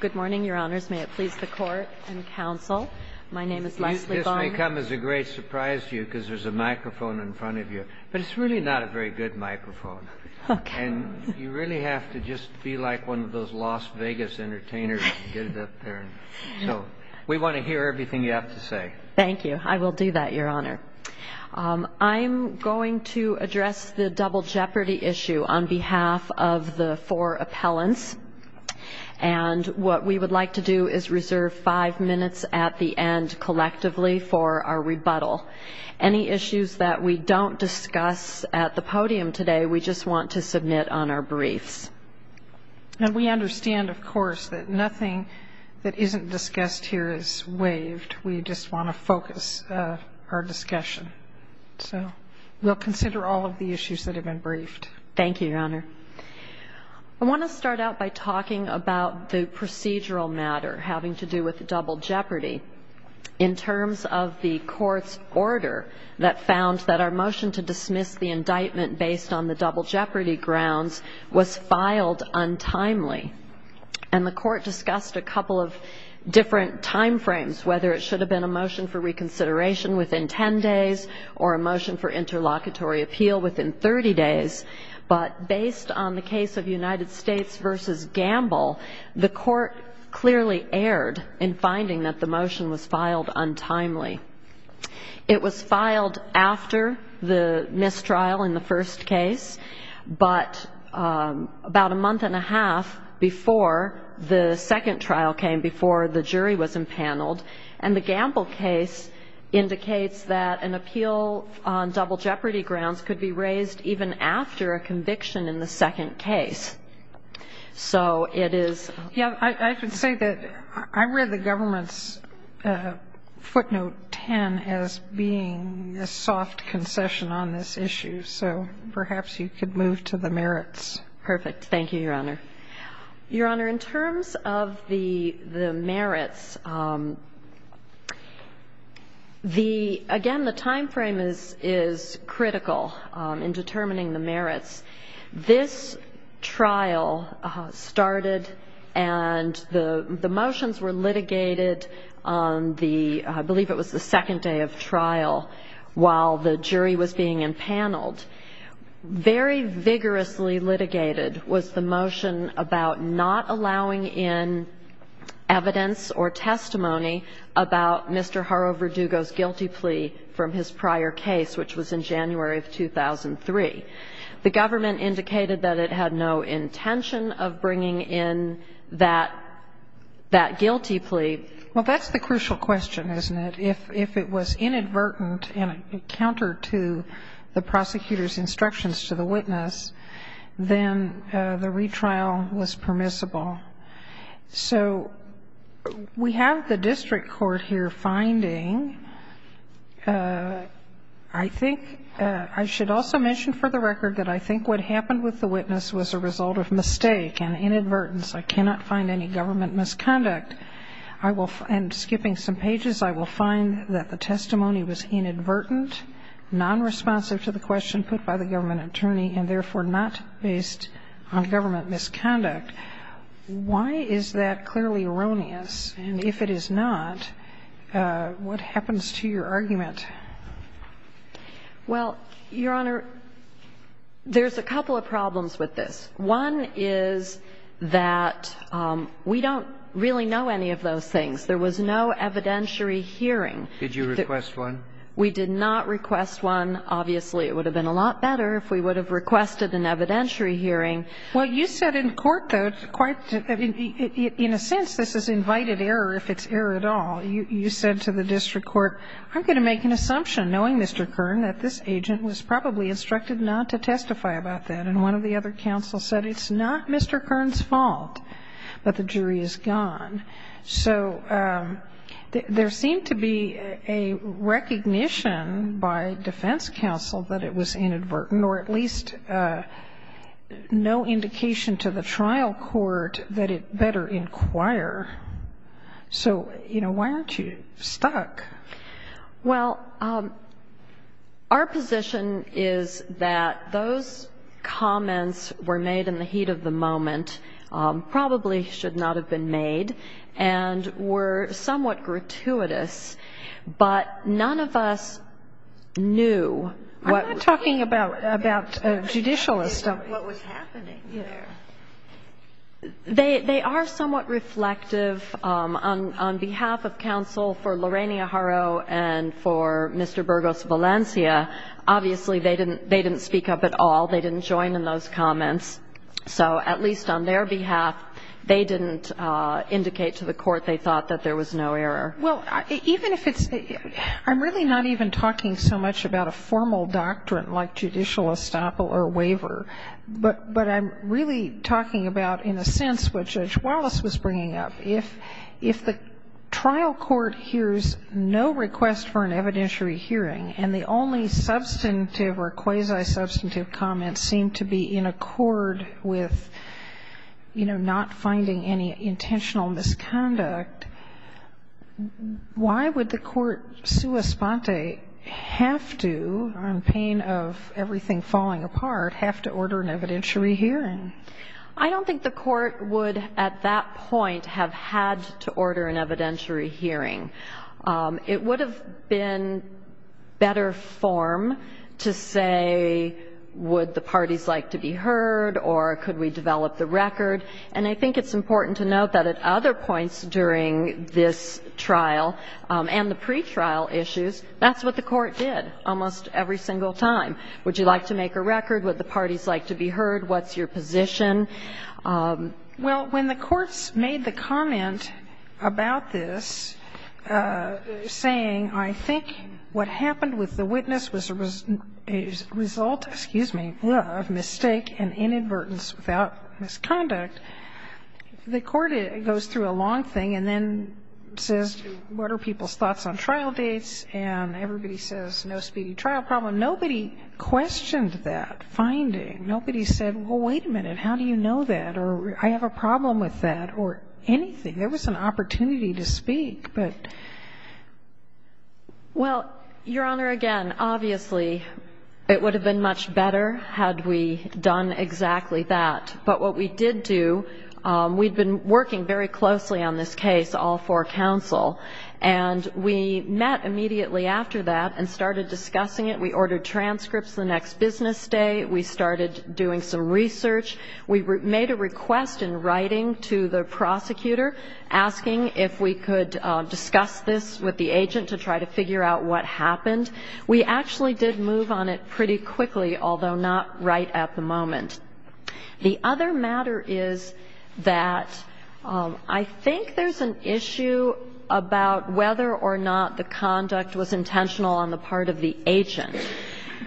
Good morning, Your Honors. May it please the Court and Counsel, my name is Leslie Barnes. This may come as a great surprise to you because there's a microphone in front of you, but it's really not a very good microphone. And you really have to just be like one of those Las Vegas entertainers and get it up there. So we want to hear everything you have to say. Thank you. I will do that, Your Honor. I'm going to address the double jeopardy issue on behalf of the four appellants. And what we would like to do is reserve five minutes at the end collectively for our rebuttal. Any issues that we don't discuss at the podium today, we just want to submit on our brief. And we understand, of course, that nothing that isn't discussed here is waived. We just want to focus our discussion. So we'll consider all of the issues that have been briefed. Thank you, Your Honor. I want to start out by talking about the procedural matter having to do with the double jeopardy in terms of the court's order that found that our motion to dismiss the indictment based on the double jeopardy grounds was filed untimely. And the court discussed a couple of different timeframes, whether it should have been a motion for reconsideration within 10 days or a motion for interlocutory appeal within 30 days. But based on the case of United States v. Gamble, the court clearly erred in finding that the motion was filed untimely. It was filed after the mistrial in the first case, but about a month and a half before the second trial came, before the jury was empaneled. And the Gamble case indicates that an appeal on double jeopardy grounds could be raised even after a conviction in the second case. So it is... Yeah, I should say that I read the government's footnote 10 as being a soft concession on this issue. So perhaps you could move to the merits. Perfect. Thank you, Your Honor. Your Honor, in terms of the merits, again, the timeframe is critical in determining the merits. This trial started and the motions were litigated on the, I believe it was the second day of trial, while the jury was being empaneled. Very vigorously litigated was the motion about not allowing in evidence or testimony about Mr. Horovodugo's guilty plea from his prior case, which was in January of 2003. The government indicated that it had no intention of bringing in that guilty plea. Well, that's the crucial question, isn't it? If it was inadvertent and counter to the prosecutor's instructions to the witness, then the retrial was permissible. So we have the district court here finding, I think, I should also mention for the record that I think what happened with the witness was a result of mistake and inadvertence. I cannot find any government misconduct. I will, and skipping some pages, I will find that the testimony was inadvertent, non-responsive to the question put by the government attorney, and therefore not based on government misconduct. Why is that clearly erroneous? And if it is not, what happens to your argument? Well, Your Honor, there's a couple of problems with this. One is that we don't really know any of those things. There was no evidentiary hearing. Did you request one? We did not request one, obviously. It would have been a lot better if we would have requested an evidentiary hearing. Well, you said in court, though, it's quite, in a sense, this is invited error if it's error at all. You said to the district court, I'm going to make an assumption, knowing Mr. Kern, that this agent was probably instructed not to testify about that. And one of the other counsel said, it's not Mr. Kern's fault that the jury is gone. So there seemed to be a recognition by defense counsel that it was inadvertent, or at least no indication to the trial court that it better inquire. So, you know, why aren't you stuck? Well, our position is that those comments were made in the heat of the moment, probably should not have been made, and were somewhat gratuitous. But none of us knew what was happening. I'm not talking about judicial or something. What was happening there. They are somewhat reflective. On behalf of counsel for Lorena Harrow and for Mr. Burgos Valencia, obviously they didn't speak up at all. They didn't join in those comments. So at least on their behalf, they didn't indicate to the court they thought that there was no error. I'm really not even talking so much about a formal doctrine like judicial estoppel or waiver. But I'm really talking about, in a sense, what Judge Wallace was bringing up. If the trial court hears no request for an evidentiary hearing, and the only substantive or quasi-substantive comments seem to be in accord with, you know, finding any intentional misconduct, why would the court, sua sponte, have to, in pain of everything falling apart, have to order an evidentiary hearing? I don't think the court would, at that point, have had to order an evidentiary hearing. It would have been better form to say, would the parties like to be heard, or could we develop the record? And I think it's important to note that at other points during this trial, and the pretrial issues, that's what the court did almost every single time. Would you like to make a record? Would the parties like to be heard? What's your position? Well, when the courts made the comment about this, saying, I think what happened with the misconduct, the court goes through a long thing and then says, what are people's thoughts on trial dates? And everybody says, no speedy trial problem. Nobody questioned that finding. Nobody said, well, wait a minute, how do you know that? Or, I have a problem with that, or anything. There was an opportunity to speak, but... Well, Your Honor, again, obviously, it would have been much better had we done exactly that. But what we did do, we'd been working very closely on this case all for counsel. And we met immediately after that and started discussing it. We ordered transcripts the next business day. We started doing some research. We made a request in writing to the prosecutor, asking if we could discuss this with the agent to try to figure out what happened. We actually did move on it pretty quickly, although not right at the moment. The other matter is that I think there's an issue about whether or not the conduct was intentional on the part of the agent.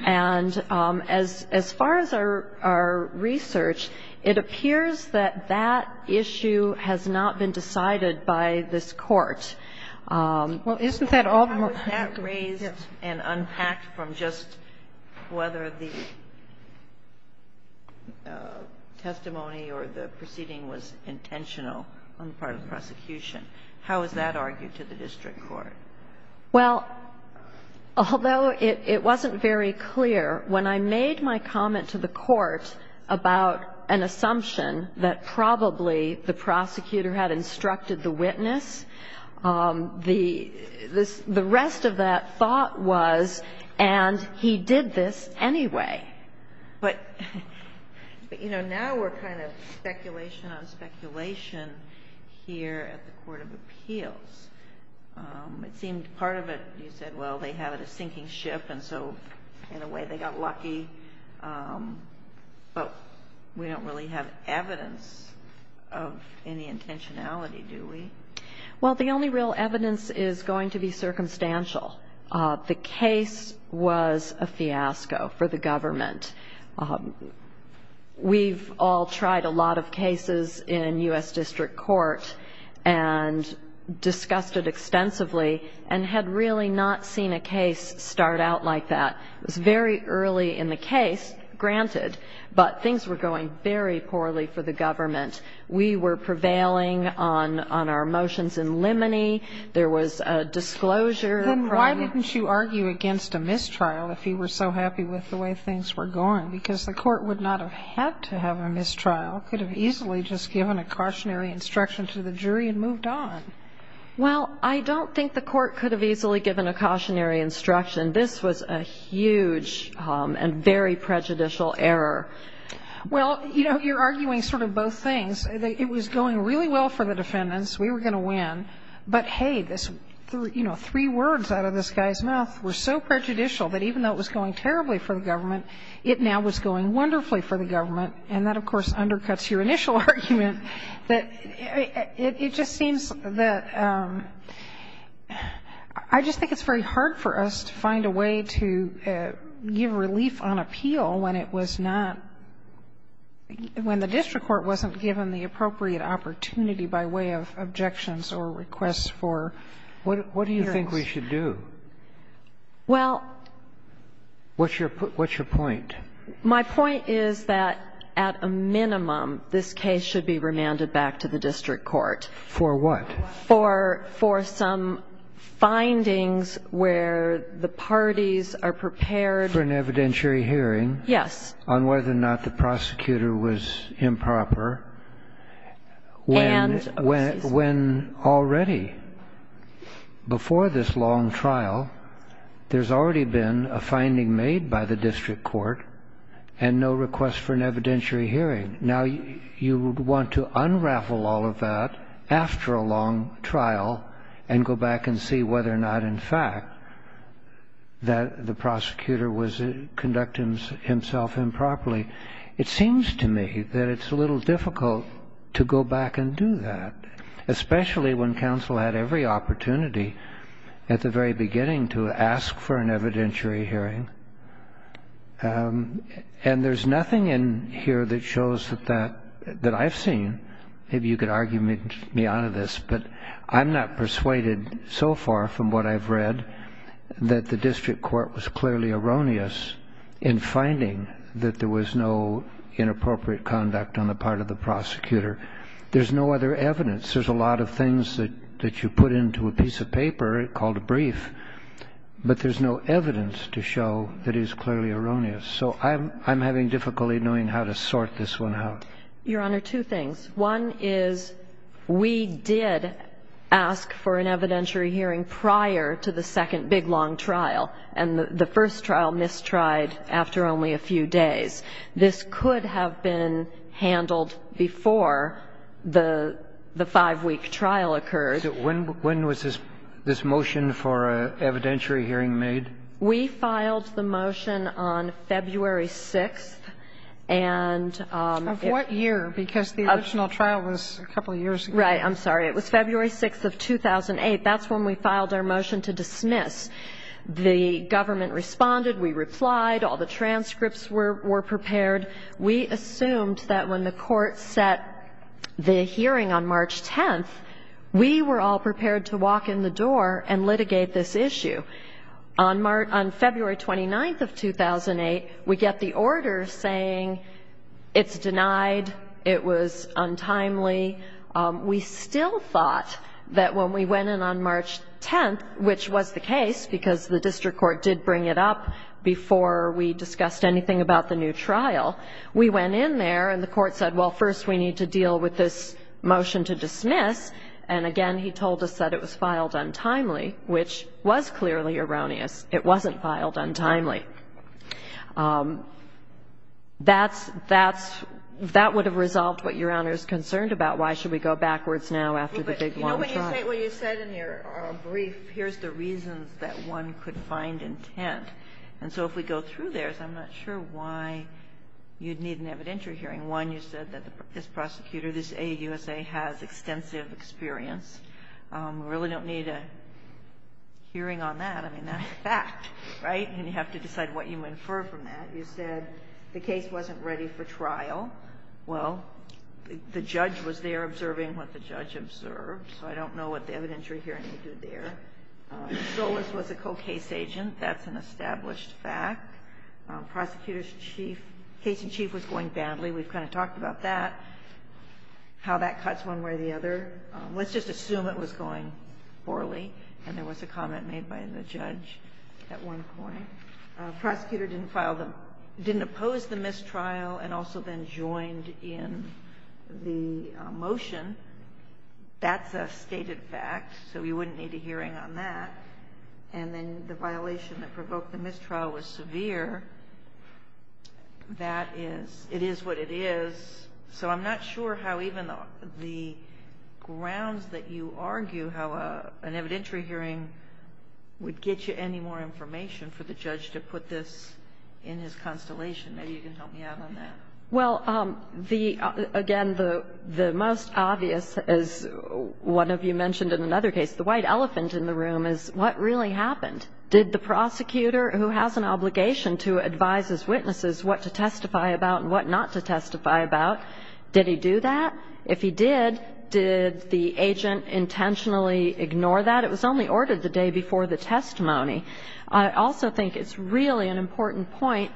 And as far as our research, it appears that that issue has not been decided by this court. Well, isn't that all... How is that raised and unpacked from just whether the testimony or the proceeding was intentional on the part of the prosecution? How is that argued to the district court? Well, although it wasn't very clear, when I made my comment that the prosecutor had instructed the witness, the rest of that thought was, and he did this anyway. But, you know, now we're kind of speculation on speculation here at the Court of Appeals. It seems part of it, you said, well, they had a sinking ship and so in a way they got lucky. But we don't really have evidence of any intentionality, do we? Well, the only real evidence is going to be circumstantial. The case was a fiasco for the government. We've all tried a lot of cases in U.S. District Court and discussed it extensively and had really not seen a case start out like that. It was very early in the case, granted, but things were going very poorly for the government. We were prevailing on our motions in limine. There was a disclosure. Then why didn't you argue against a mistrial if you were so happy with the way things were going? Because the court would not have had to have a mistrial, could have easily just given a cautionary instruction to the jury and moved on. Well, I don't think the court could have easily given a cautionary instruction. This was a huge and very prejudicial error. Well, you know, you're arguing sort of both things. It was going really well for the defendants. We were going to win. But, hey, this, you know, three words out of this guy's mouth were so prejudicial that even though it was going terribly for the government, it now was going wonderfully for the government. And that, of course, undercuts your initial argument that it just seems that I just think it's very hard for us to find a way to give relief on appeal when it was not, when the district court wasn't given the appropriate opportunity by way of objections or requests for what do you think we should do? Well, what's your point? My point is that at a minimum, this case should be remanded back to the district court. For what? For some findings where the parties are prepared for an evidentiary hearing on whether or not the prosecutor was improper when already before this long trial, there's already been a finding made by the district court and no request for an evidentiary hearing. Now you want to unravel all of that after a long trial and go back and see whether or not, in fact, that the prosecutor was conducting himself improperly. It seems to me that it's a little difficult to go back and do that, especially when counsel had every opportunity at the very beginning to ask for an evidentiary hearing. And there's nothing in here that shows that I've seen, maybe you could argue me out of this, but I'm not persuaded so far from what I've read that the district court was clearly erroneous in finding that there was no inappropriate conduct on the part of the prosecutor. There's no other evidence. There's a lot of things that you put into a piece of paper called a brief, but there's no evidence to show that is clearly erroneous. So I'm having difficulty knowing how to sort this one out. Your Honor, two things. One is we did ask for an evidentiary hearing prior to the second big long trial and the first trial mistried after only a few days. This could have been handled before the five-week trial occurred. So when was this motion for an evidentiary hearing made? We filed the motion on February 6th. Of what year? Because the original trial was a couple years ago. Right. I'm sorry. It was February 6th of 2008. That's when we filed our motion to dismiss. The government responded. We replied. All the transcripts were prepared. We assumed that when the court set the hearing on March 10th, we were all prepared to walk in the door and litigate this issue. On February 29th of 2008, we get the order saying it's denied, it was untimely. We still thought that when we went in on March 10th, which was the case because the district court did bring it up before we discussed anything about the new trial, we went in there and the court said, well, first we need to deal with this motion to dismiss. And again, he told us that it was filed untimely, which was clearly erroneous. It wasn't filed untimely. That would have resolved what Your Honor is concerned about. Why should we go backwards now after the big long trial? When you said in your brief, here's the reasons that one could find intent. And so if we go through theirs, I'm not sure why you'd need an evidentiary hearing. One, you said that this prosecutor, this AUSA, has extensive experience. We really don't need a hearing on that. I mean, that's a fact, right? And you have to decide what you infer from that. You said the case wasn't ready for trial. Well, the judge was there observing what the judge observed, so I don't know what the evidentiary hearing did there. Solis was a co-case agent. That's an established fact. Prosecutor's case in chief was going badly. We've kind of talked about that, how that cuts one way or the other. Let's just assume it was going poorly and there was a trial and also then joined in the motion. That's a stated fact, so we wouldn't need a hearing on that. And then the violation that provoked the mistrial was severe. That is, it is what it is. So I'm not sure how even the grounds that you argue how an evidentiary hearing would get you more information for the judge to put this in his constellation. Maybe you can help me out on that. Well, again, the most obvious, as one of you mentioned in another case, the white elephant in the room is what really happened? Did the prosecutor, who has an obligation to advise his witnesses what to testify about and what not to testify about, did he do that? If he did, did the agent intentionally ignore that? It was only ordered the day before the testimony. I also think it's really an important point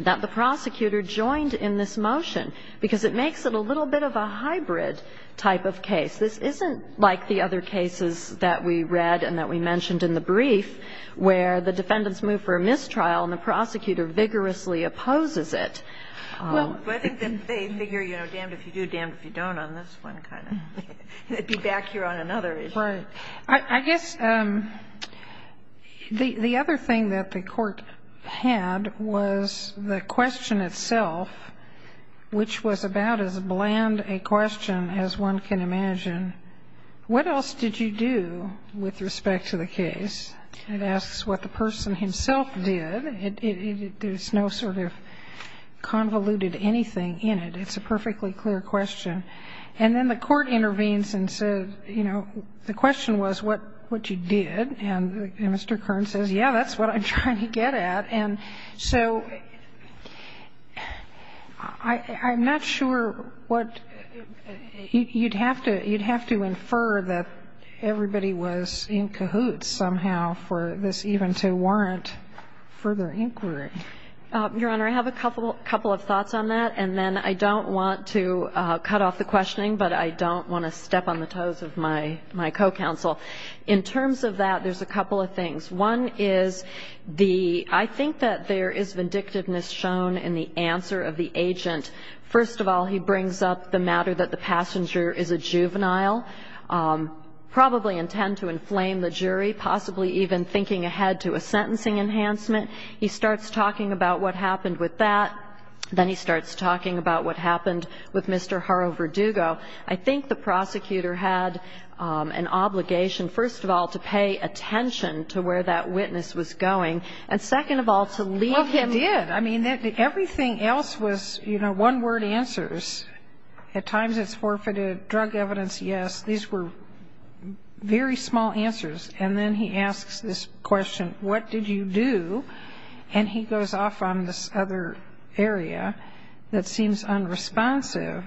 that the prosecutor joined in this motion because it makes it a little bit of a hybrid type of case. This isn't like the other cases that we read and that we mentioned in the brief where the defendants move for a mistrial and the prosecutor vigorously opposes it. I guess the other thing that the court had was the question itself, which was about as bland a question as one can imagine. What else did you do with respect to the case? It asks what the person himself did. There's no sort of convoluted anything in it. It's a perfectly clear question. And then the court intervenes and says, you know, the question was what you did. And Mr. Kern says, yeah, that's what I'm trying to get at. And so I'm not sure what you'd have to infer that everybody was in cahoots somehow for this even to warrant further inquiry. Your Honor, I have a couple of thoughts on that. And then I don't want to cut off the questioning, but I don't want to step on the toes of my co-counsel. In terms of that, there's a couple of things. One is the, I think that there is vindictiveness shown in the answer of the agent. First of all, he brings up the matter that the passenger is a juvenile, probably intend to inflame the jury, possibly even thinking ahead to a sentencing enhancement. He starts talking about what happened with that. Then he starts talking about what happened with Mr. Jaro Verdugo. I think the prosecutor had an obligation, first of all, to pay attention to where that witness was going. And second of all, to lead him... Well, he did. I mean, everything else was, you know, one word answers. At times it's forfeited, drug evidence, yes. These were very small answers. And then he asks this question, what did you do? And he goes off on this other area that seems unresponsive.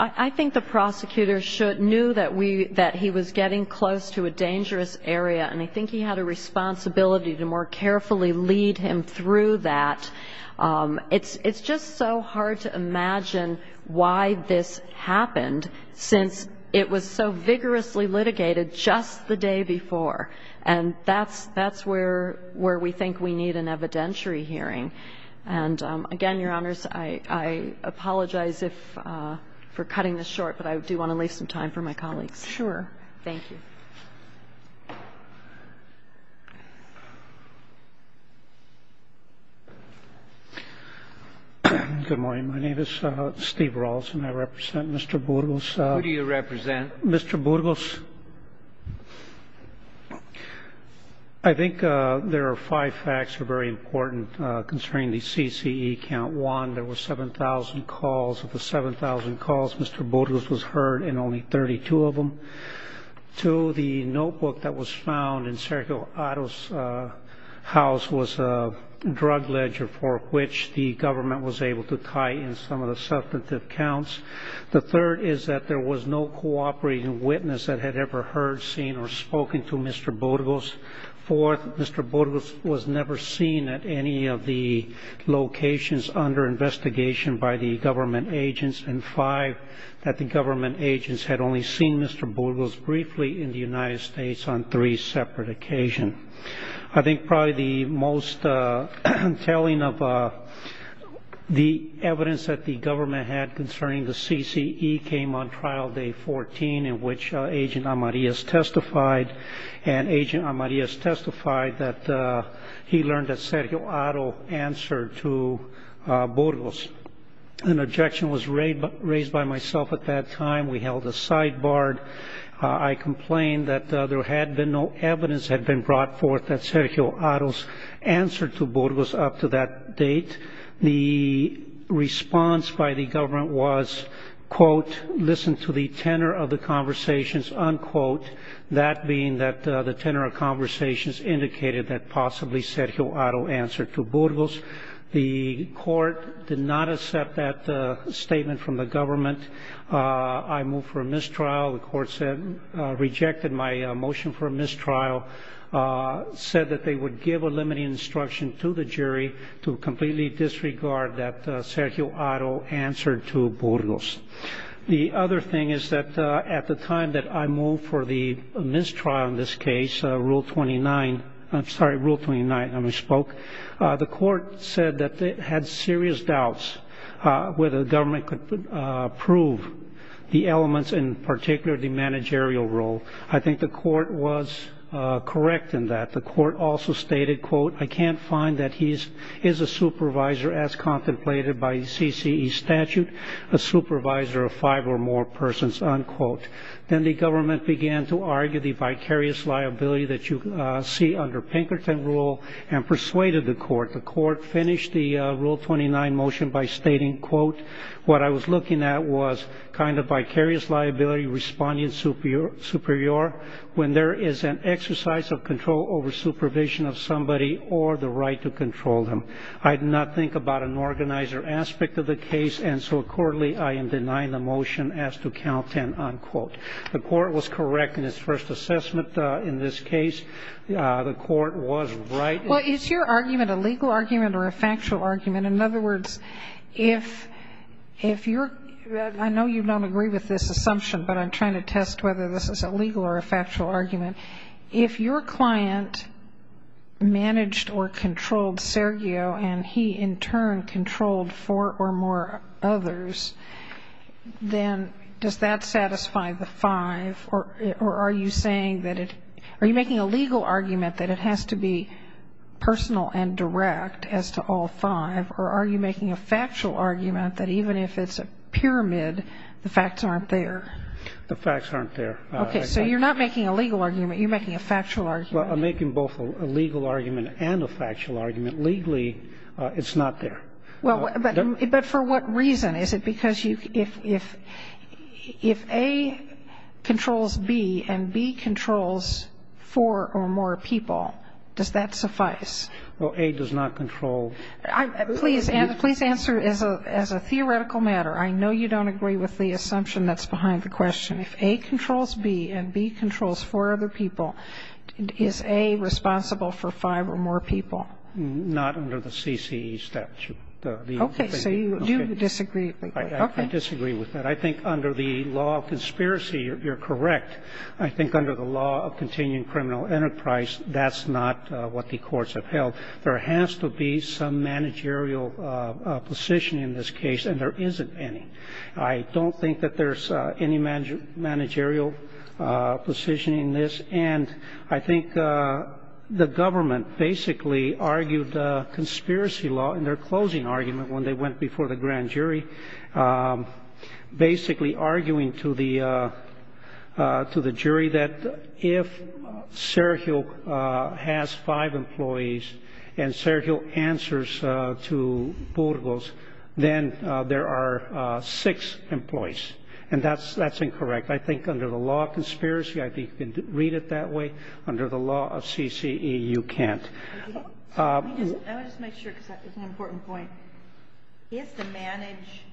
I think the prosecutor knew that he was getting close to a dangerous area and I think he had a responsibility to more carefully lead him through that. It's just so hard to imagine why this happened since it was so vigorously litigated just the day before. And that's where we think we need an evidentiary hearing. And again, Your Honors, I apologize for cutting this short, but I do want to leave some time for my colleagues. Sure. Thank you. Good morning. My name is Steve Rawson. I represent Mr. Burgos. Who do you represent? Mr. Burgos. I think there are five facts that are very important concerning the CCE count. One, there were 7,000 calls. Of the 7,000 calls, Mr. Burgos was heard in only 32 of them. Two, the notebook that was found in Sergio Otto's house was a drug ledger for which the government was able to tie in some of the substantive counts. The third is that there was no cooperating witness that had ever heard, seen, or spoken to Mr. Burgos. Fourth, Mr. Burgos was never seen at any of the locations under investigation by the government agents. And five, that the government agents had only seen Mr. Burgos briefly in the United States on three separate occasions. I think probably the most telling of the evidence that the government had concerning the CCE came on trial day 14 in which Agent Amarillas testified. And Agent Amarillas testified that he learned that Sergio Otto answered to Burgos. An objection was raised by myself at that time. We held a sidebar. I complained that there had been no evidence had been brought forth that Sergio to the tenor of the conversations, unquote, that being that the tenor of conversations indicated that possibly Sergio Otto answered to Burgos. The court did not accept that statement from the government. I moved for a mistrial. The court rejected my motion for a mistrial, said that they would give a limiting instruction to the jury to completely disregard that Sergio to the tenor. The other thing is that at the time that I moved for the mistrial in this case, Rule 29, I'm sorry, Rule 29 when we spoke, the court said that they had serious doubts whether the government could prove the elements, in particular the managerial role. I think the court was correct in that. The court also stated, quote, I can't find that he is a supervisor as unquote. Then the government began to argue the vicarious liability that you see under Pinkerton rule and persuaded the court. The court finished the Rule 29 motion by stating, quote, what I was looking at was kind of vicarious liability responding superior when there is an exercise of control over supervision of somebody or the right to control them. I did not think about an aspect of the case, and so accordingly I am denying the motion as to count ten, unquote. The court was correct in its first assessment in this case. The court was right. Well, is your argument a legal argument or a factual argument? In other words, I know you don't agree with this assumption, but I'm trying to test whether this is a legal or a factual argument. If your client managed or controlled Sergio and he in turn controlled four or more others, then does that satisfy the five, or are you making a legal argument that it has to be personal and direct as to all five, or are you making a factual argument that even if it's a legal argument, you're making a factual argument? Well, I'm making both a legal argument and a factual argument. Legally, it's not there. But for what reason? Is it because if A controls B and B controls four or more people, does that suffice? Well, A does not control... Please answer as a theoretical matter. I know you don't agree with the assumption that's behind the assumption that A controls four other people. Is A responsible for five or more people? Not under the CCE statute. Okay, so you do disagree. I disagree with that. I think under the law of conspiracy, you're correct. I think under the law of continuing criminal enterprise, that's not what the courts have held. There has to be some managerial position in this case, and there isn't any. I don't think that there's any managerial position in this, and I think the government basically argued the conspiracy law in their closing argument when they went before the grand jury, basically arguing to the jury that if Sergio has five employees and Sergio answers to Burgos, then there are six employees, and that's incorrect. I think under the law of conspiracy, I think you can read it that way. Under the law of CCE, you can't. I want to make sure because that's an important point. He has to manage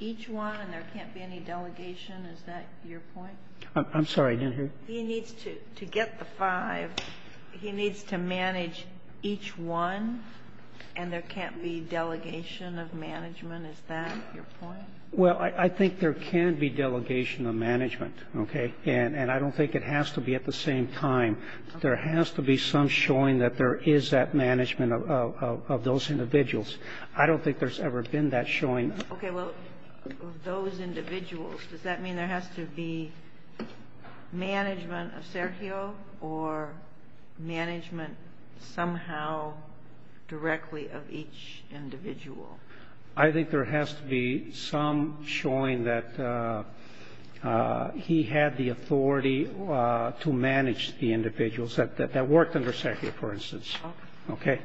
each one, and there can't be any delegation. Is that your point? I'm sorry. He needs to get the five. He needs to manage each one, and there can't be delegation of management. Is that your point? Well, I think there can be delegation of management, and I don't think it has to be at the same time. There has to be some showing that there is that management of those individuals. I don't think there's ever been that showing. Okay. Well, those individuals, does that mean there has to be management of Sergio or management somehow directly of each individual? I think there has to be some showing that he had the authority to manage the individuals that worked under Sergio, for instance. Okay.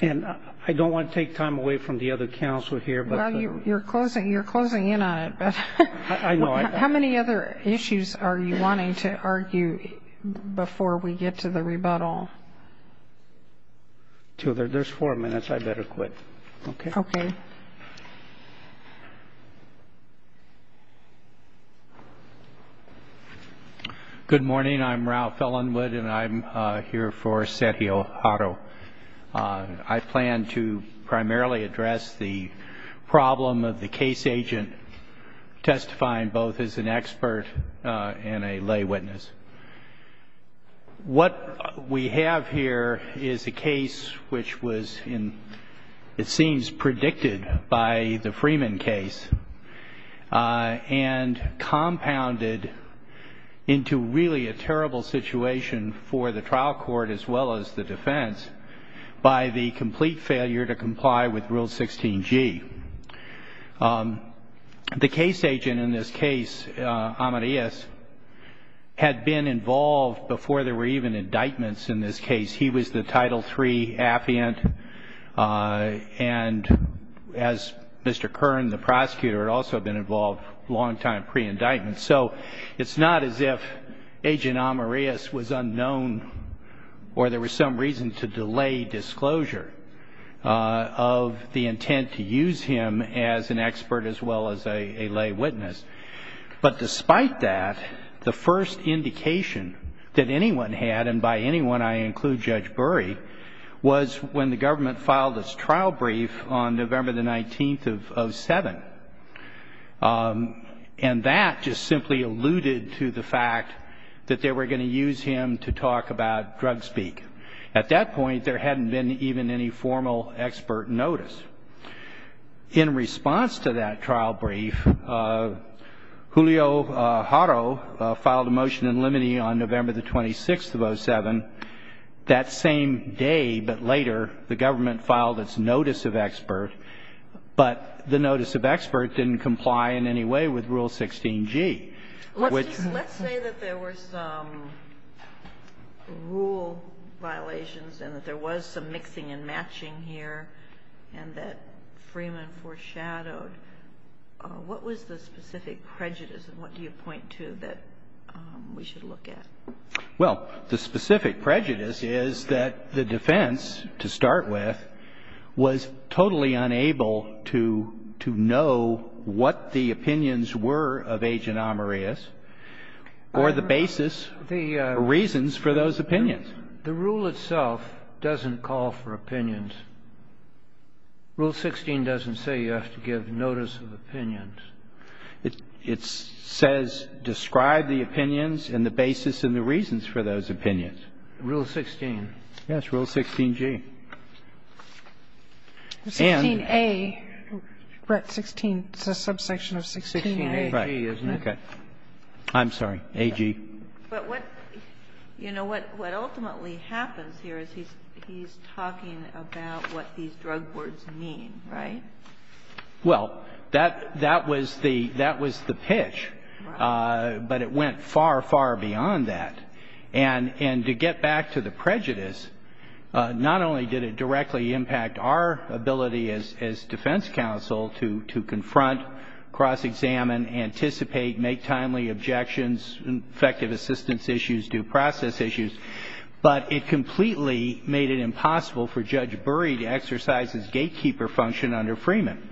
And I don't want to take time away from the other panels. You're closing in on it. How many other issues are you wanting to argue before we get to the rebuttal? There's four minutes. I better quit. Good morning. I'm Ralph Ellenwood, and I'm here for Sergio Haro. I plan to primarily address the problem of the case agent testifying both as an expert and a lay witness. What we have here is a case which was, it seems, predicted by the Freeman case and compounded into really a terrible situation for the trial court as well as the defense by the complete failure to comply with Rule 16G. The case agent in this case, Amarillas, had been involved before there were even indictments in this case. He was the Title III affiant, and as Mr. Kern, the prosecutor, had also been involved a long time pre-indictment. So it's not as if Agent Amarillas was unknown or there was some reason to delay disclosure of the intent to use him as an expert as well as a lay witness. But despite that, the first indication that anyone had, and by anyone, I include Judge Burry, was when the government filed its trial brief on November the 19th of 07. And that just simply alluded to the fact that they were going to use him to talk about drug speak. At that point, there hadn't been even any formal expert notice. In response to that trial brief, Julio Haro filed a motion in limine on November the 26th of 07. That same day, but later, the government filed its notice of expert. But the notice of expert didn't comply in any way with Rule 16G. Let's say that there were some rule violations and that there was some mixing and matching here and that Freeman foreshadowed. What was the specific prejudice and what do you with was totally unable to know what the opinions were of Agent Amarillas or the basis, the reasons for those opinions? The rule itself doesn't call for opinions. Rule 16 doesn't say you have to give notice of opinions. It says describe the opinions and the 16A, the subsection of 16A. I'm sorry, AG. But what ultimately happens here is he's talking about what these drug boards mean, right? Well, that was the pitch, but it went far, far beyond that. And to get back to the prejudice, not only did it directly impact our ability as defense counsel to confront, cross-examine, anticipate, make timely objections, effective assistance issues, due process issues, but it completely made it impossible for Judge Burry to exercise his gatekeeper function under Freeman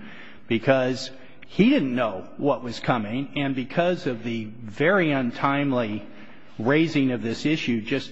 because he didn't know what was coming and because of the very untimely raising of this issue just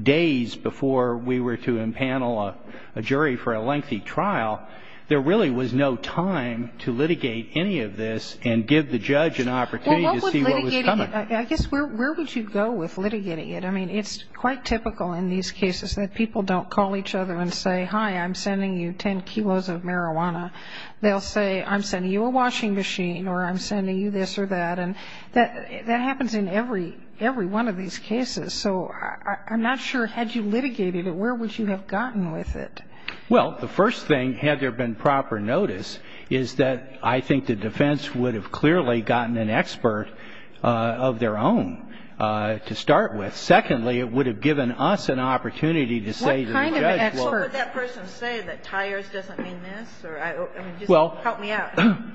days before we were to impanel a jury for a lengthy trial, there really was no time to litigate any of this and give the judge an opportunity to see what was coming. I guess where would you go with litigating it? I mean, it's quite typical in these cases that people don't call each other and say, hi, I'm sending you 10 kilos of marijuana. They'll say, I'm sending you a washing machine or I'm sending you this or that. And that happens in every one of these cases. So I'm not sure, had you litigated it, where would you have gotten with it? Well, the first thing, had there been proper notice, is that I think the defense would have clearly gotten an expert of their own to start with. Secondly, it would have given us an opportunity to say to the judge, well,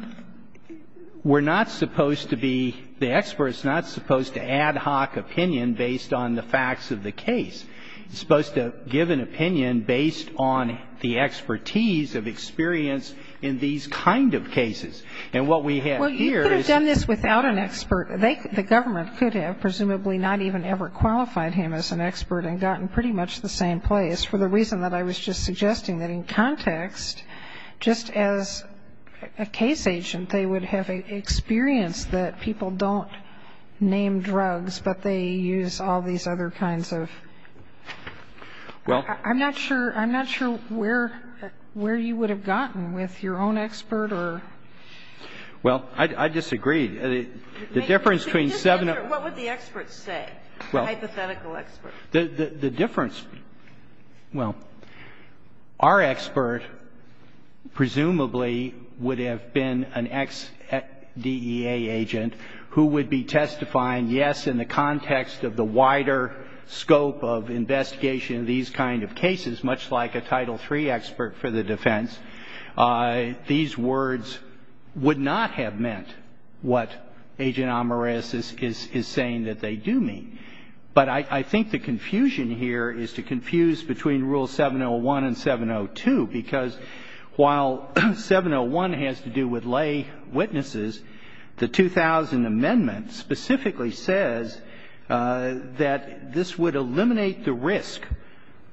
we're not supposed to be the experts, not supposed to ad hoc opinion based on the facts of the case. You're supposed to give an opinion based on the expertise of experience in these kind of cases. And what we have here is... Well, you could have done this without an expert. The government could have presumably not even qualified him as an expert and gotten pretty much the same place for the reason that I was just suggesting that in context, just as a case agent, they would have an experience that people don't name drugs, but they use all these other kinds of... I'm not sure where you would have gotten with your own expert or... Well, I disagree. The difference between seven... What would the experts say? Hypothetical experts. The difference... Well, our expert presumably would have been an ex-DEA agent who would be testifying, yes, in the context of the wider scope of investigation of these kind of cases, much like a Title III expert for the defense. These words would not have meant what Agent Amoreus is saying that they do mean. But I think the confusion here is to confuse between Rule 701 and 702, because while 701 has to do with lay witnesses, the 2000 Amendment specifically says that this would eliminate the risk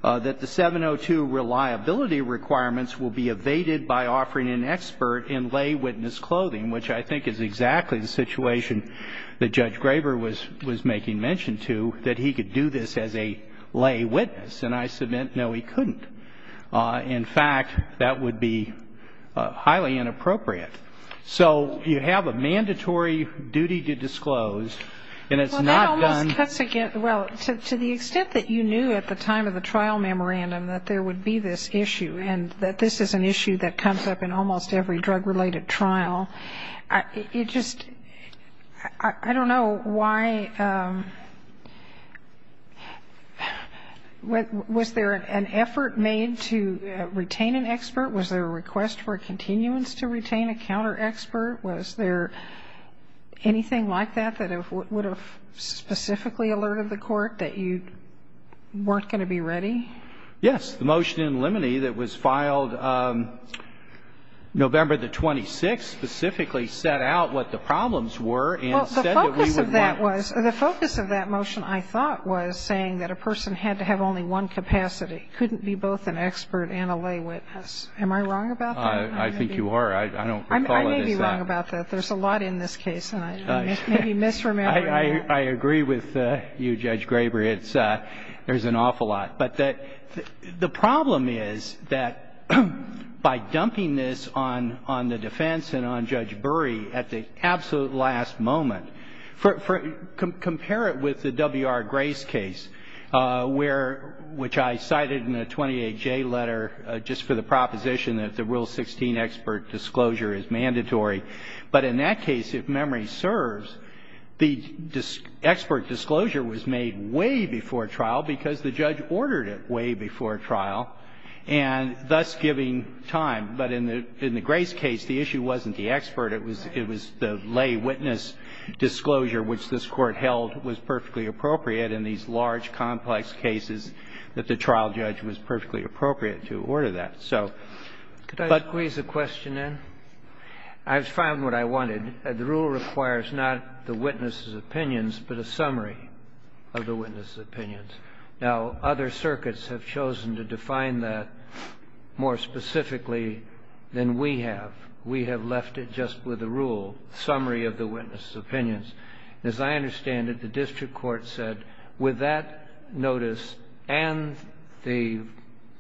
that the 702 reliability requirements will be evaded by offering an expert in lay witness clothing, which I think is exactly the situation that Judge Graber was making mention to, that he could do this as a lay witness. And I submit, no, he couldn't. In fact, that would be highly inappropriate. So you have a mandatory duty to disclose, and it's not done... Well, to the extent that you knew at the time of the trial memorandum that there would be this and that this is an issue that comes up in almost every drug-related trial, it just... I don't know why... Was there an effort made to retain an expert? Was there a request for continuance to retain a counter-expert? Was there anything like that that would have specifically alerted the court that you weren't going to be ready? Yes. The motion in limine that was filed November the 26th specifically set out what the problems were. Well, the focus of that was... The focus of that motion, I thought, was saying that a person had to have only one capacity, couldn't be both an expert and a lay witness. Am I wrong about that? I think you are. I don't recall anything... I may be wrong about that. There's a lot in this case. I agree with you, Judge Graber. There's an awful lot. But the problem is that by dumping this on the defense and on Judge Bury at the absolute last moment... Compare it with the W.R. Grace case, which I cited in the 28J letter just for the proposition that the Rule 16 expert disclosure is mandatory. But in that case, if memory serves, the expert disclosure was made way before trial because the judge ordered it way before trial, and thus giving time. But in the Grace case, the issue wasn't the expert. It was the lay witness disclosure, which this court held was perfectly appropriate in these large, complex cases, that the trial judge was perfectly appropriate to order that. Could I squeeze a question in? I've found what I wanted. The rule requires not the witness's opinions, but a summary of the witness's opinions. Now, other circuits have chosen to define that more specifically than we have. We have left it just with a rule, summary of the witness's opinions. As I understand it, the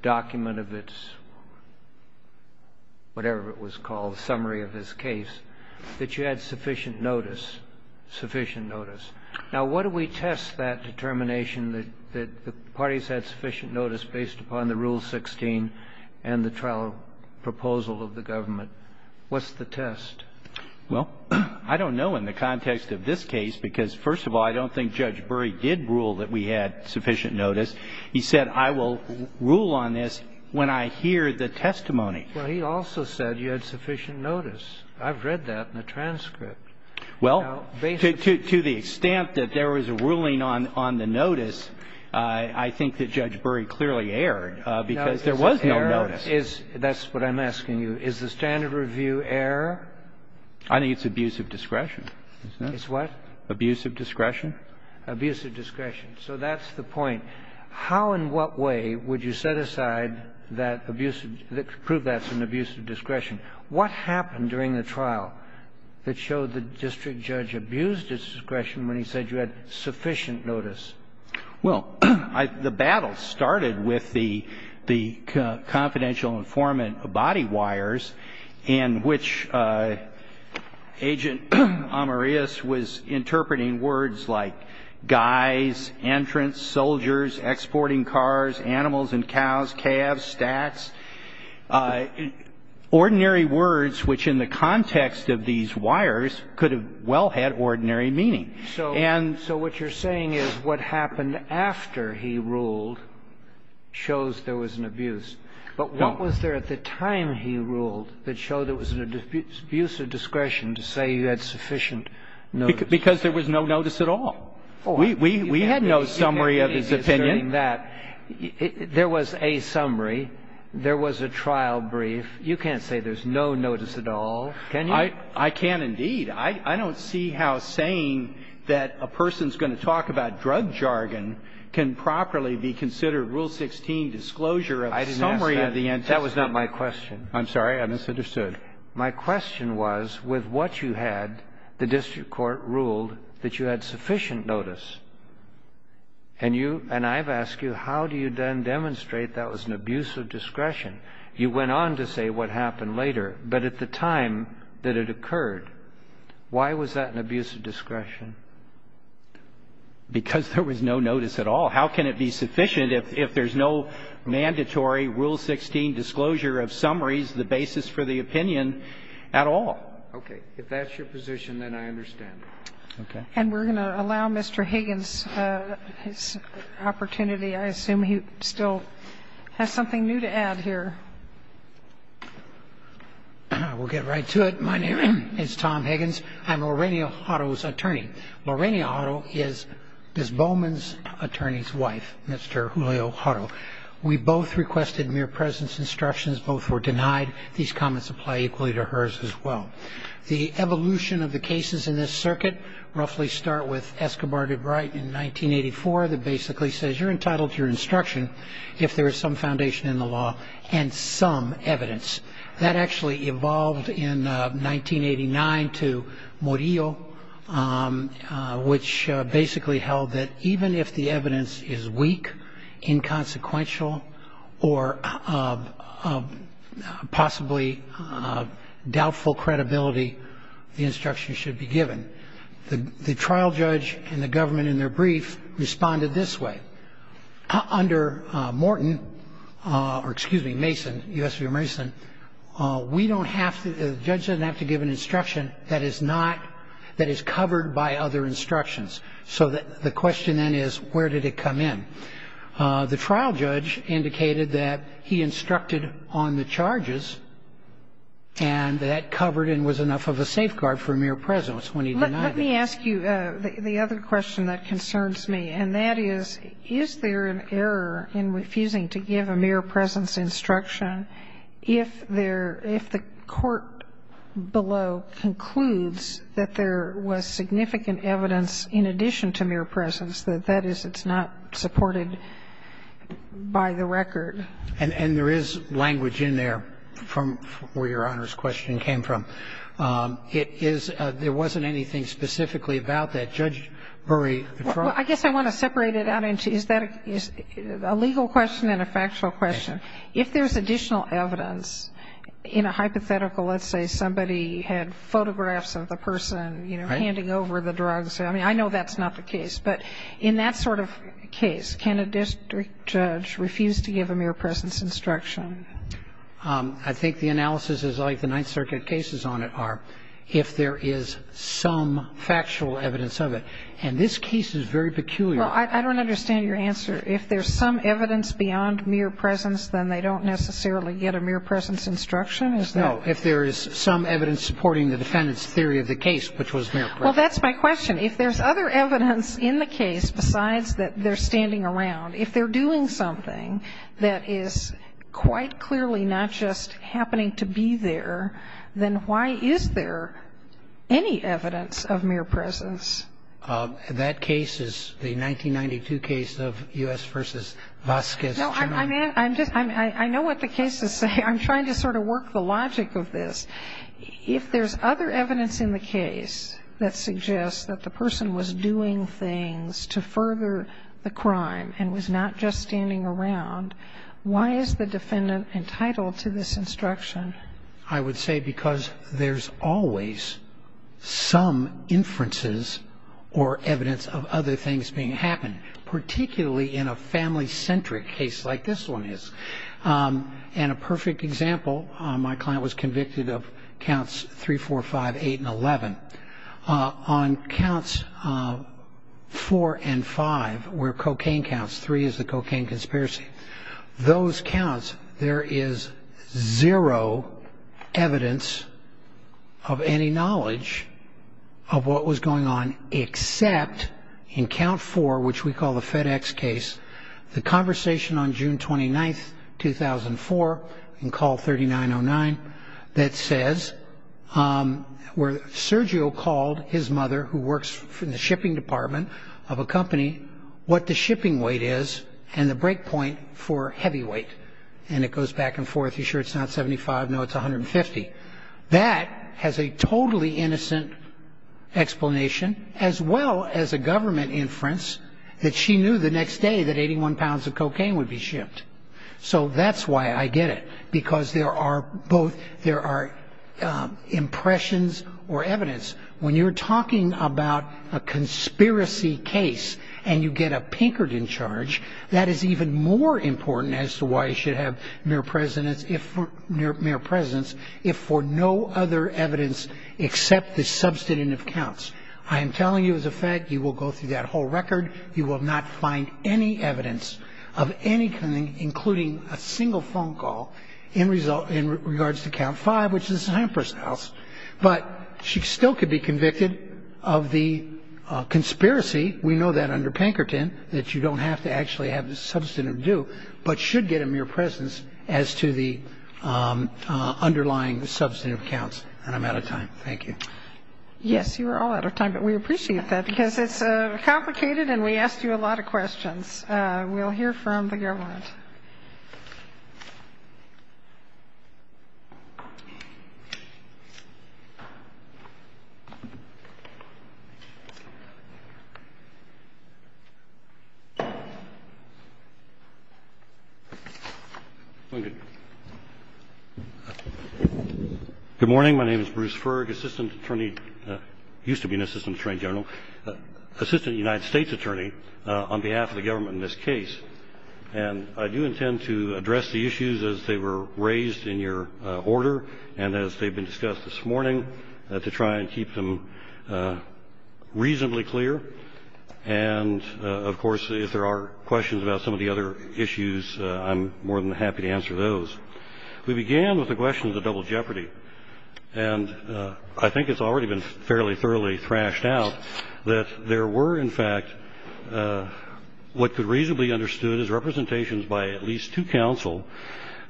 document of its, whatever it was called, summary of this case, that you had sufficient notice. Now, what do we test that determination that the parties had sufficient notice based upon the Rule 16 and the trial proposal of the government? What's the test? Well, I don't know in the context of this case because, first of all, I don't think Judge Bury did rule that we had sufficient notice. He said, I will rule on this when I hear the testimony. Well, he also said you had sufficient notice. I've read that in the transcript. Well, to the extent that there was a ruling on the notice, I think that Judge Bury clearly erred because there was no notice. That's what I'm asking you. Is the standard review error? I think it's abusive discretion. It's what? Abusive discretion. Abusive discretion. How and what way would you set aside that abusive, prove that's an abusive discretion? What happened during the trial that showed the district judge abused his discretion when he said you had sufficient notice? Well, the battle started with the confidential informant body wires in which Agent Amarius was interpreting words like guys, entrance, soldiers, exporting cars, animals and cows, calves, stats, ordinary words, which in the context of these wires could have well had ordinary meaning. So what you're saying is what happened after he ruled shows there was an abuse. But what was there at the time he ruled that showed it was an abusive discretion to say you had sufficient? Because there was no notice at all. We had no summary of his opinion that there was a summary. There was a trial brief. You can't say there's no notice at all. Can you? I can indeed. I don't see how saying that a person's going to talk about drug jargon can properly be considered Rule 16 disclosure of summary of the answer. That was not my question. I'm sorry. I misunderstood. My question was with what you had, the district court ruled that you had sufficient notice. And you, and I've asked you, how do you then demonstrate that was an abusive discretion? You went on to say what happened later, but at the time that it occurred, why was that an abusive discretion? Because there was no notice at all. How can it be sufficient if there's no mandatory Rule 16 disclosure of summaries, the basis for the opinion at all? Okay. If that's your position, then I understand. And we're going to allow Mr. Higgins opportunity. I assume he still has something new to add here. I will get right to it. My name is Tom Higgins. I'm Lorraine Otto's attorney. Lorraine Otto is Ms. Bowman's attorney's wife, Mr. Leo Otto. We both requested mere presence instructions. Both were denied. These comments apply equally to hers as well. The evolution of the cases in this circuit, roughly start with Escobar de Bright in 1984 that basically says you're entitled to your instruction if there is some foundation in the evidence. That actually evolved in 1989 to Murillo, which basically held that even if the evidence is weak, inconsequential, or possibly doubtful credibility, the instruction should be given. The trial judge and the government in their brief responded this way. Under Morton, or excuse me, Mason, U.S. v. Mason, we don't have to, the judge doesn't have to give an instruction that is not, that is covered by other instructions. So the question then is, where did it come in? The trial judge indicated that he instructed on the charges and that covered and was enough of a safeguard for mere presence when he denied it. Let me ask you the other question that concerns me, and that is, is there an error in refusing to give a mere presence instruction if there, if the court below concludes that there was significant evidence in addition to mere presence, that that is, it's not supported by the record? And there is language in there from where your Honor's question came from. It is, there wasn't anything specifically about that. Judge Murray. I guess I want to separate it out into, is that a legal question and a factual question? If there's additional evidence in a hypothetical, let's say somebody had photographs of a person, you know, handing over the drugs, I mean, I know that's not the case, but in that sort of case, can a district judge refuse to give a mere presence instruction? I think the analysis is like the Ninth Circuit cases on it are, if there is some factual evidence of it, and this case is very peculiar. Well, I don't understand your answer. If there's some evidence beyond mere presence, then they don't necessarily get a mere presence instruction, is that? No, if there is some evidence supporting the defendant's theory of the case, which was mere presence. Well, that's my question. If there's other evidence in the case besides that they're standing around, if they're doing something that is quite clearly not just happening to be there, then why is there any evidence of mere presence? That case is the 1992 case of U.S. versus Vasquez. I know what the cases say. I'm trying to sort of work the logic of this. If there's other evidence in the case that suggests that the person was doing things to further the crime and was not just standing around, why is the defendant entitled to this because there's always some inferences or evidence of other things being happened, particularly in a family-centric case like this one is. And a perfect example, my client was convicted of counts 3, 4, 5, 8, and 11. On counts 4 and 5, where cocaine counts, 3 is the cocaine conspiracy, those counts, there is zero evidence of any knowledge of what was going on except in count 4, which we call the FedEx case, the conversation on June 29, 2004, in call 3909, that says where Sergio called his mother, who works in the shipping department of a company, what the shipping weight is and the breakpoint for heavyweight. And it goes back and forth. Are you sure it's not 75? No, it's 150. That has a totally innocent explanation, as well as a government inference that she knew the next day that 81 pounds of cocaine would be shipped. So that's why I get it, because there are both, there are impressions or evidence. When you're talking about a conspiracy case and you get a Pinkerton charge, that is even more important as to why you should have mere presence if for no other evidence except the substantive counts. I am telling you as a FedEx, you will go through that whole record. You will not find any evidence of any kind, including a single phone call in regards to count 5, which is the Hemperson house. But she still could be under Pinkerton, that you don't have to actually have the substantive due, but should get a mere presence as to the underlying substantive counts. And I'm out of time. Thank you. Yes, you are all out of time, but we appreciate that because it's complicated and we asked you a lot of questions. We'll hear from the government. Good morning. My name is Bruce Ferg, Assistant Attorney, used to be an Assistant Attorney General, Assistant United States Attorney on behalf of the government in this case. And I do intend to address the issues as they were raised in your order and as they've been of course, if there are questions about some of the other issues, I'm more than happy to answer those. We began with the questions of double jeopardy. And I think it's already been fairly, thoroughly thrashed out that there were in fact, what could reasonably understood as representations by at least two counsel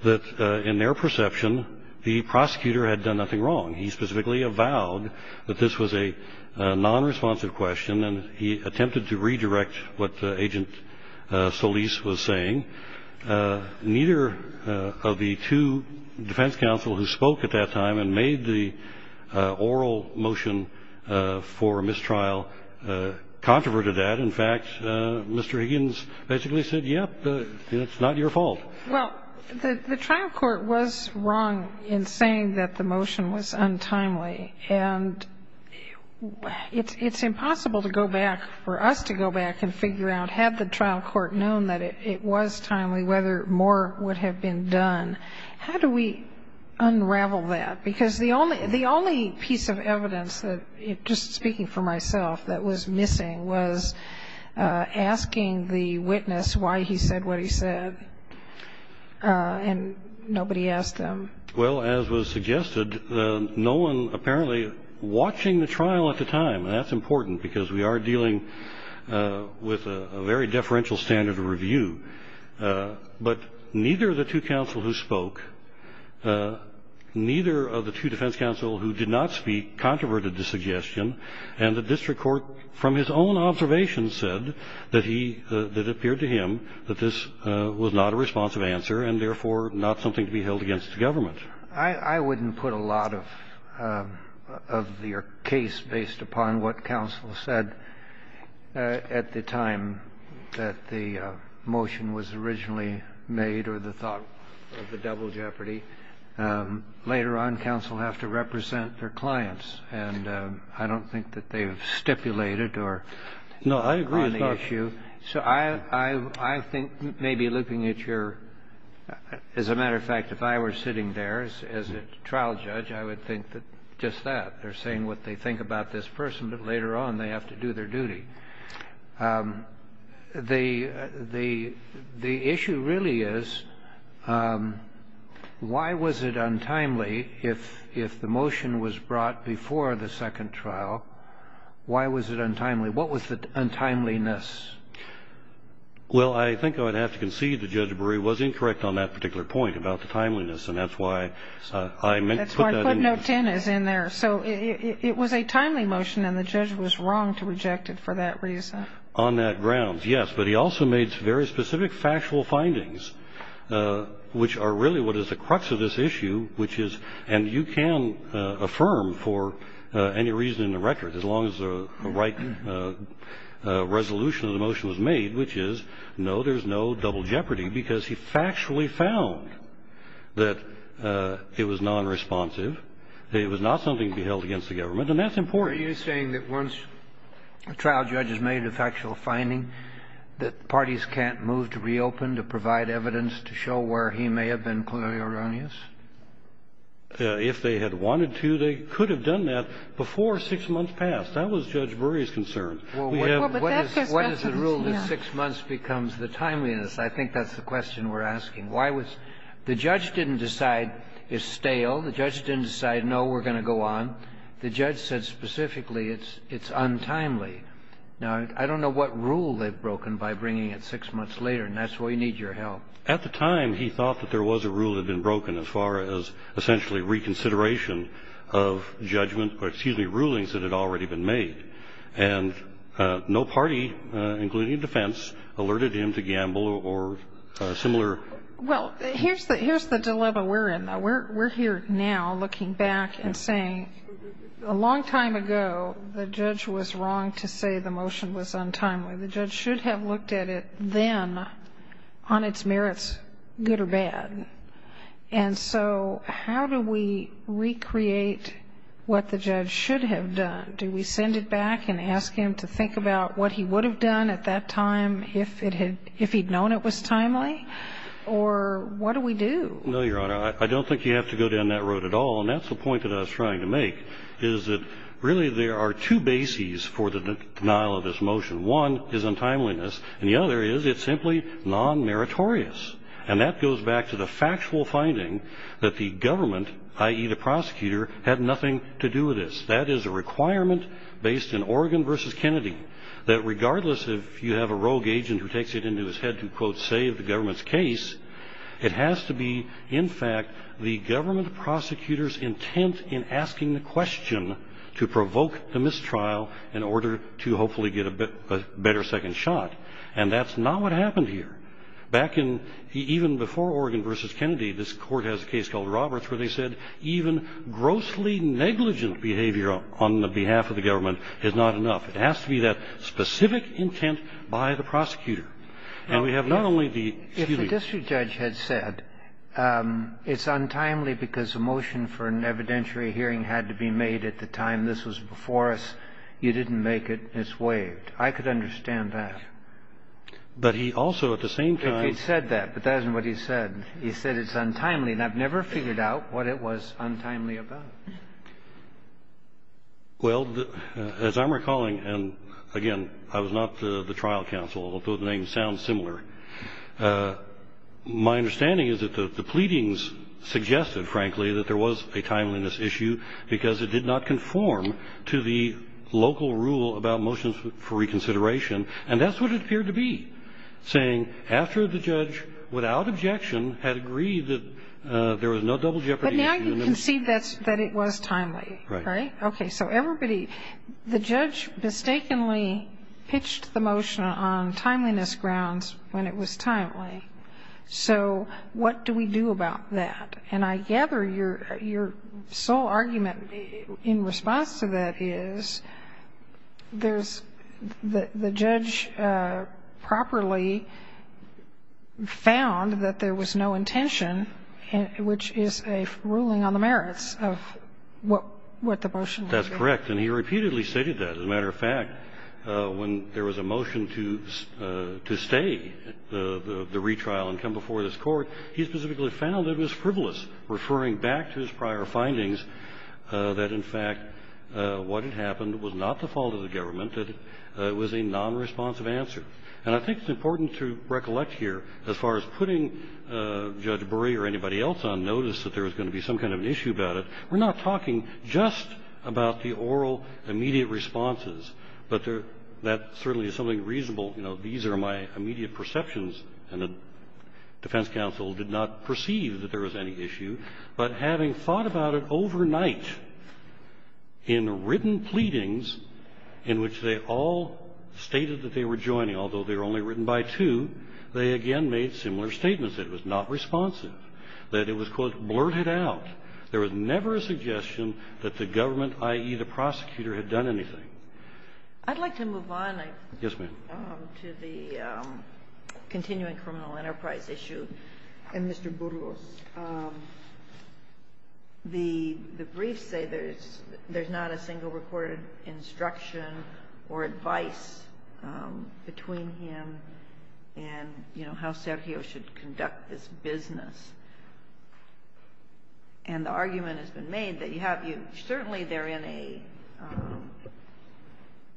that in their perception, the prosecutor had done nothing wrong. He vowed that this was a non-responsive question and he attempted to redirect what the agent Solis was saying. Neither of the two defense counsel who spoke at that time and made the oral motion for mistrial controverted that in fact, Mr. Higgins basically said, yep, it's not your fault. Well, the trial court was wrong in saying that the motion was timely. And it's impossible to go back, for us to go back and figure out, had the trial court known that it was timely, whether more would have been done. How do we unravel that? Because the only piece of evidence that, just speaking for myself, that was missing was asking the witness why he said what he said and nobody asked them. Well, as was suggested, no one apparently watching the trial at the time, and that's important because we are dealing with a very deferential standard of review. But neither of the two counsel who spoke, neither of the two defense counsel who did not speak controverted the suggestion and the district court from his own observation said that he, that it appeared to him that this was not a responsive answer and therefore not something to be held against the government. I wouldn't put a lot of your case based upon what counsel said at the time that the motion was originally made or the thought of the devil's jeopardy. Later on, counsel have to represent their clients and I don't think that they've stipulated or No, I agree with the issue. So I think maybe looking at your, as a matter of fact, if I were sitting there as a trial judge, I would think that just that they're saying what they think about this person, but later on they have to do their duty. The issue really is why was it untimely if the motion was brought before the second trial, why was it untimely? What was the untimeliness? Well, I think I'd have to concede that Judge Brewer was incorrect on that particular point about the timeliness and that's why I meant to put that in there. So it was a timely motion and the judge was wrong to reject it for that reason. On that grounds, yes, but he also made very specific factual findings which are really what is the crux of this issue, which is, and you can affirm for any reason in the record, as long as the right resolution of the motion was made, which is, no, there's no double jeopardy because he factually found that it was non-responsive. It was not something to be held against the government and that's important. Are you saying that once a trial judge has made a factual finding that parties can't move to reopen to provide evidence to show where he may have been clearly erroneous? Yes. If they had wanted to, they could have done that before six months passed. That was Judge Brewer's concern. Well, what is the rule that six months becomes the timeliness? I think that's the question we're asking. The judge didn't decide it's stale. The judge didn't decide, no, we're going to go on. The judge said specifically it's untimely. Now, I don't know what rule they've broken by bringing it six months later and that's why we need your help. At the time, he thought that there was a rule that had been broken as far as essentially reconsideration of rulings that had already been made and no party, including defense, alerted him to gamble or similar. Well, here's the dilemma we're in. We're here now looking back and saying a long time ago, the judge was wrong to say the motion was untimely. The judge should have looked at it then on its merits, good or bad. How do we recreate what the judge should have done? Do we send it back and ask him to think about what he would have done at that time if he'd known it was timely or what do we do? No, Your Honor. I don't think you have to go down that road at all. That's the point that I was trying to make is that really there are two bases for the denial of this motion. One is untimeliness and the other is it's simply non-meritorious and that goes back to the factual finding that the government, i.e., the prosecutor, had nothing to do with this. That is a requirement based in Oregon v. Kennedy that regardless if you have a rogue agent who takes it into his head to, quote, save the government's case, it has to be, in fact, the government prosecutor's intent in asking the question to provoke the mistrial in order to hopefully get a better second shot and that's not what happened here. Back in, even before Oregon v. Kennedy, this court has a case called Roberts where they said even grossly negligent behavior on the behalf of the government is not enough. It has to be that specific intent by the prosecutor. Now, we have not only the... If the district judge had said, it's untimely because the motion for an evidentiary hearing had to be made at the time this was before us, you didn't make it and it's waived. I could understand that. But he also, at the same time... He said that, but that isn't what he said. He said it's untimely and I've never figured out what it was untimely about. Well, as I'm recalling, and again, I was not the trial counsel, although the names sound similar. My understanding is that the pleadings suggested, frankly, that there was a timeliness issue because it did not conform to the local rule about motions for reconsideration and that's what it appeared to be, saying after the judge, without objection, had agreed that there was no timeliness. Right? Okay. So everybody... The judge mistakenly pitched the motion on timeliness grounds when it was timely. So what do we do about that? And I gather your sole argument in response to that is the judge properly found that there was no intention, which is a ruling on the merits of what the motion was. That's correct. And he repeatedly stated that. As a matter of fact, when there was a motion to stay the retrial and come before this court, he specifically found it was frivolous, referring back to his prior findings that, in fact, what had happened was not the fault of the government, that it was a non-responsive answer. And I think it's important to recollect here, as far as putting Judge Bury or anybody else on some kind of issue about it, we're not talking just about the oral, immediate responses, but that certainly is something reasonable. These are my immediate perceptions, and the defense counsel did not perceive that there was any issue. But having thought about it overnight in written pleadings in which they all stated that they were joining, although they were only written by two, they again made similar statements. It was not responsive. That it was, blurted out. There was never a suggestion that the government, i.e., the prosecutor, had done anything. I'd like to move on. Yes, ma'am. To the continuing criminal enterprise issue. And Mr. Burgos, the briefs say there's not a single recorded instruction or advice between him and, you know, how Sergio should conduct this business. And the argument has been made that you have, you know, certainly they're in a,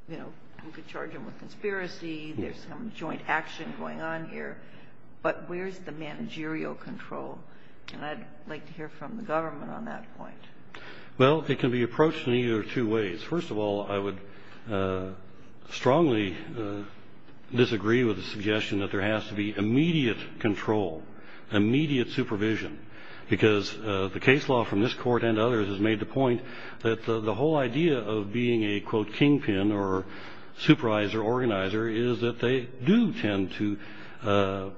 you know, you could charge them with conspiracy, there's some joint action going on here, but where's the managerial control? And I'd like to hear from the government on that point. Well, it can be approached in either two ways. First of all, I would strongly disagree with the suggestion that there has to be immediate control, immediate supervision. Because the case law from this court and others has made the point that the whole idea of being a, quote, kingpin, or supervisor, organizer, is that they do tend to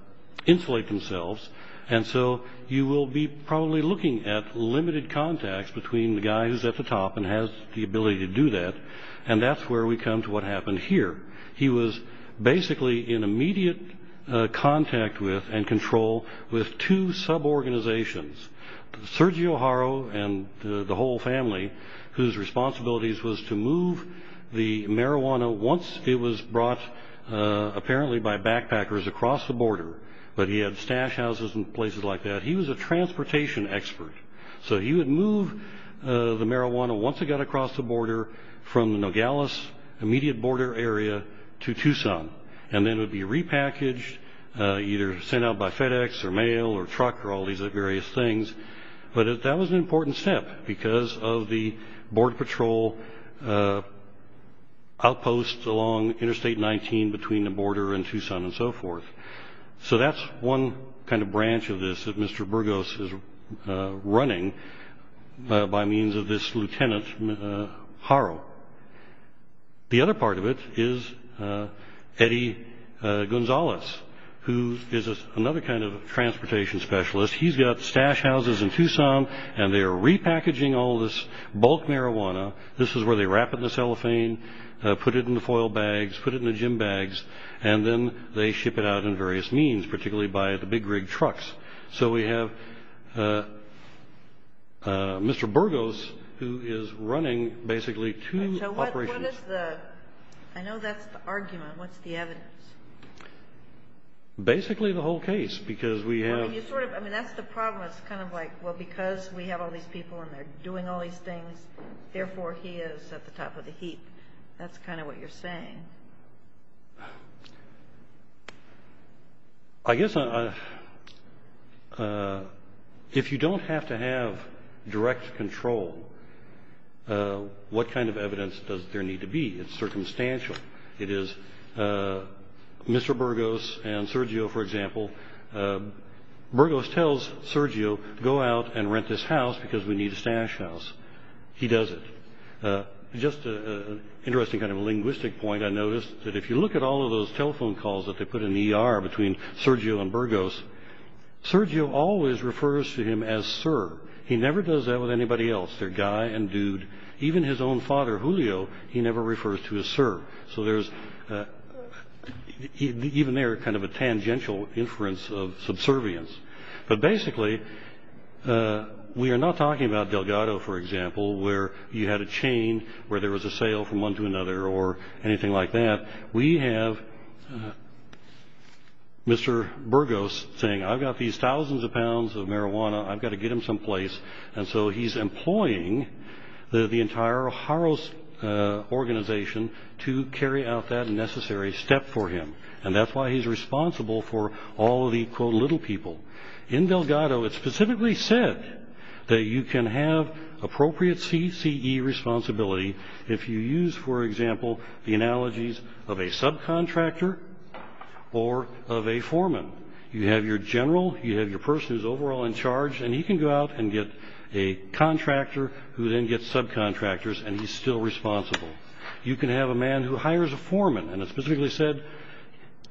insulate themselves. And so you will be probably looking at limited contacts between the guy who's at the top and has the ability to do that. And that's where we come to what happened here. He was basically in immediate contact with and control with two suborganizations, Sergio O'Hara and the whole family, whose responsibilities was to move the marijuana once it was brought apparently by backpackers across the border. But he had stash houses and places like that. He was a transportation expert. So he would move the marijuana once it got across the border from the Nogales immediate border area to Tucson. And then it would be repackaged, either sent out by FedEx or mail or truck or all these various things. But that was an important step because of the Border Patrol outposts along Interstate 19 between the border and Tucson and so forth. So that's one kind of branch of this that Mr. Burgos is running by means of this Lieutenant Haro. The other part of it is Eddie Gonzalez, who is another kind of transportation specialist. He's got stash houses in Tucson and they are repackaging all this bulk marijuana. This is where they wrap it in cellophane, put it in the foil bags, put it in the gym bags, and then they ship it out in various means, particularly by the big rig trucks. So we have Mr. Burgos, who is running basically two operations. I know that's the argument. What's the evidence? Basically the whole case, because we have... I mean, that's the problem. It's kind of like, well, because we have all these people and they're doing all these things, therefore he is at the top of the heap. That's kind of what you're saying. I guess if you don't have to have direct control, what kind of evidence does there need to be? It's Mr. Burgos and Sergio, for example. Burgos tells Sergio, go out and rent this house because we need a stash house. He does it. Just an interesting kind of linguistic point, I noticed that if you look at all of those telephone calls that they put in the ER between Sergio and Burgos, Sergio always refers to him as sir. He never does that with anybody else. They're guy and dude. Even his is kind of a tangential inference of subservience. But basically, we are not talking about Delgado, for example, where you had a chain where there was a sale from one to another or anything like that. We have Mr. Burgos saying, I've got these thousands of pounds of marijuana. I've got to get And so he's employing the entire O'Hara organization to carry out that necessary step for him. And that's why he's responsible for all of the, quote, little people. In Delgado, it's specifically said that you can have appropriate CCE responsibility if you use, for example, the analogies of a subcontractor or of a foreman. You have your general, you have your person who's overall in charge, and he can go out and get a contractor who then gets subcontractors, and he's still responsible. You can have a man who hires a foreman, and it's specifically said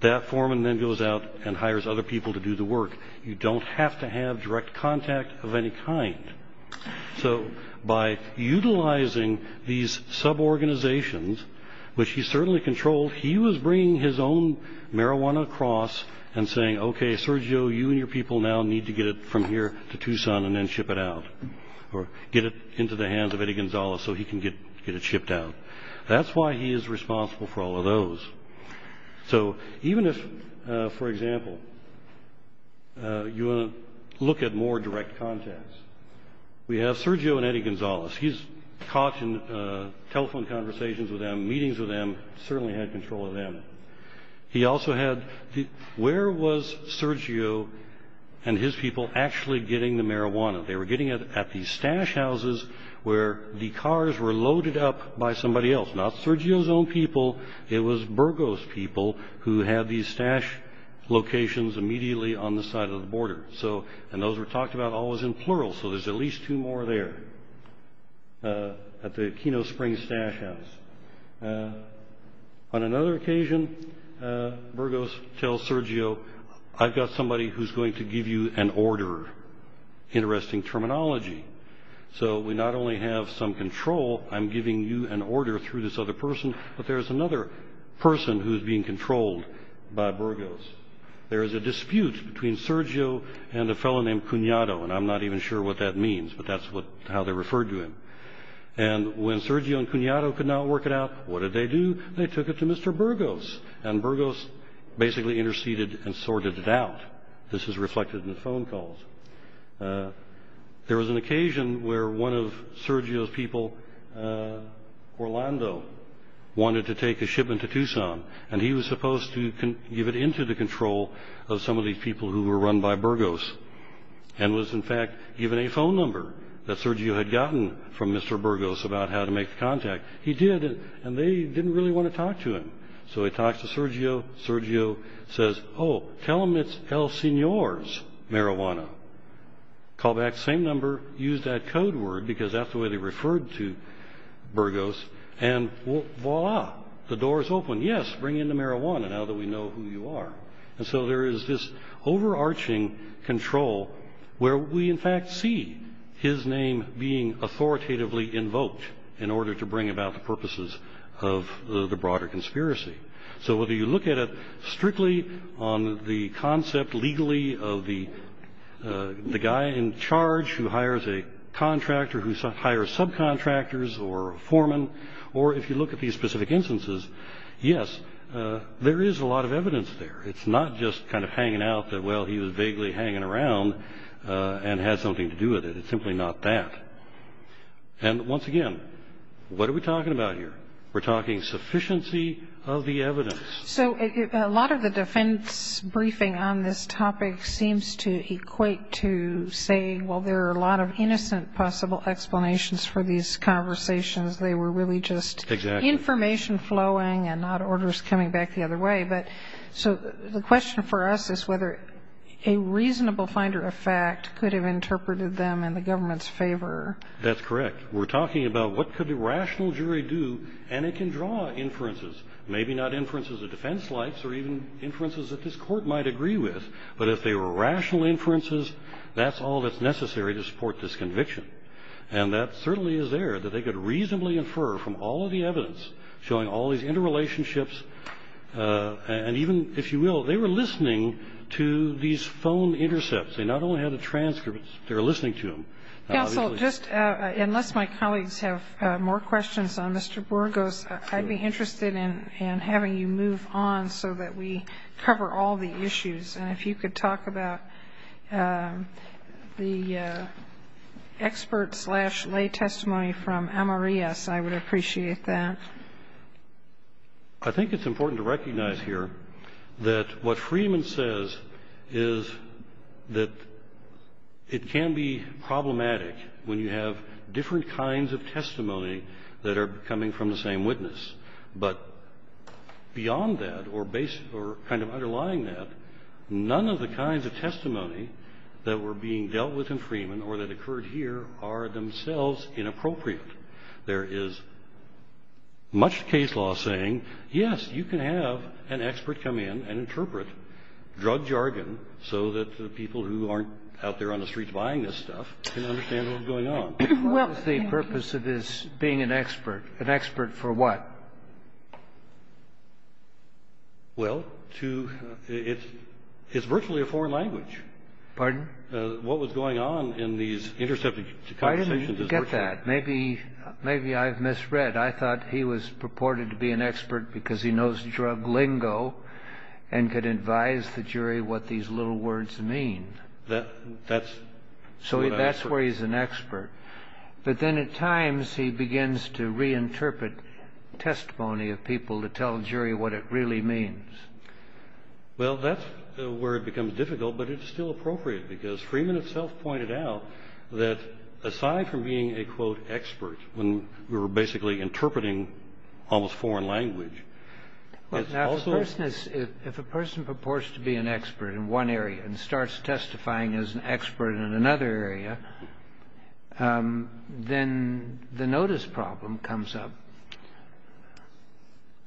that foreman then goes out and hires other people to do the work. You don't have to have direct contact of any kind. So by utilizing these suborganizations, which he certainly controlled, he was bringing his own marijuana across and saying, okay, Sergio, you and your people now need to get it from here to Tucson and then ship it out or get it into the hands of Eddie Gonzalez so he can get it shipped out. That's why he is responsible for all of those. So even if, for example, you want to look at more direct contacts, we have Sergio and Eddie Gonzalez. He's caught in telephone conversations with them, meetings with them, certainly had control of them. He also had, where was Sergio and his people actually getting the marijuana? They were getting it at the stash houses where the cars were loaded up by somebody else. Not Sergio's own people, it was Burgo's people who had these stash locations immediately on the side of the border. And those were talked about always in plural, so there's at least two more there. At the Aquino Springs stash house. On another occasion, Burgo's tells Sergio, I've got somebody who's going to give you an order. Interesting terminology. So we not only have some control, I'm giving you an order through this other person, but there's another person who's being controlled by Burgo's. There is a dispute between Sergio and a fellow named Cunado, and I'm not even sure what that means, but that's how they referred to him. And when Sergio and Cunado could not work it out, what did they do? They took it to Mr. Burgo's, and Burgo's basically interceded and sorted it out. This is reflected in the phone calls. There was an occasion where one of Sergio's people, Orlando, wanted to take the shipment to Tucson, and he was supposed to give it into the control of some of these people who were run by Burgo's, and was in fact given a phone number that Sergio had gotten from Mr. Burgo's about how to make the contact. He did, and they didn't really want to talk to him. So he talks to Sergio. Sergio says, oh, tell them it's El Senor's marijuana. Call back the same number, use that code word, because that's the way they referred to Burgo's, and voila, the door is open. Yes, bring in the marijuana now that we know who you are. So there is this overarching control where we in fact see his name being authoritatively invoked in order to bring about the purposes of the broader conspiracy. So whether you look at it strictly on the concept legally of the guy in charge who hires a contractor, who hires subcontractors or foremen, or if you look at these specific instances, yes, there is a lot of evidence there. It's not just kind of hanging out that, well, he was vaguely hanging around and had something to do with it. It's simply not that. And once again, what are we talking about here? We're talking sufficiency of the evidence. So a lot of the defense briefing on this topic seems to equate to say, well, there are a lot of innocent possible explanations for these conversations. They were really just information flowing and not orders coming back the other way. So the question for us is whether a reasonable finder of fact could have interpreted them in the government's favor. That's correct. We're talking about what could the rational jury do, and it can draw inferences. Maybe not inferences the defense likes or even inferences that this court might agree with, but if they were rational inferences, that's all that's necessary to support this conviction. And that certainly is there, that they could reasonably infer from all of the evidence, showing all these interrelationships, and even, if you will, they were listening to these phone intercepts. They not only had the transcripts, they were listening to them. Yes, well, just unless my colleagues have more questions on Mr. Burgos, I'd be interested in having you move on so that we cover all the testimony. The expert-slash-lay testimony from Amarias, I would appreciate that. I think it's important to recognize here that what Friedman says is that it can be problematic when you have different kinds of testimony that are coming from the same witness, but beyond that or kind of underlying that, none of the kinds of testimony that were being dealt with in Friedman or that occurred here are themselves inappropriate. There is much case law saying, yes, you can have an expert come in and interpret drug jargon so that the people who aren't out there on the streets buying this stuff can understand what's going on. What is the purpose of this being an expert? An expert for what? Well, it's virtually a foreign language. Pardon? What was going on in these intercepted circumstances. I didn't get that. Maybe I've misread. I thought he was purported to be an expert because he knows drug lingo and could advise the jury what these little words mean. That's where he's an expert, but then at times he begins to reinterpret testimony of people to tell the jury what it really means. Well, that's where it becomes difficult, but it's still appropriate because Friedman himself pointed out that aside from being a, quote, expert when we were basically interpreting almost foreign language. If a person purports to be an expert in one area and starts testifying as an expert in another area, then the notice problem comes up.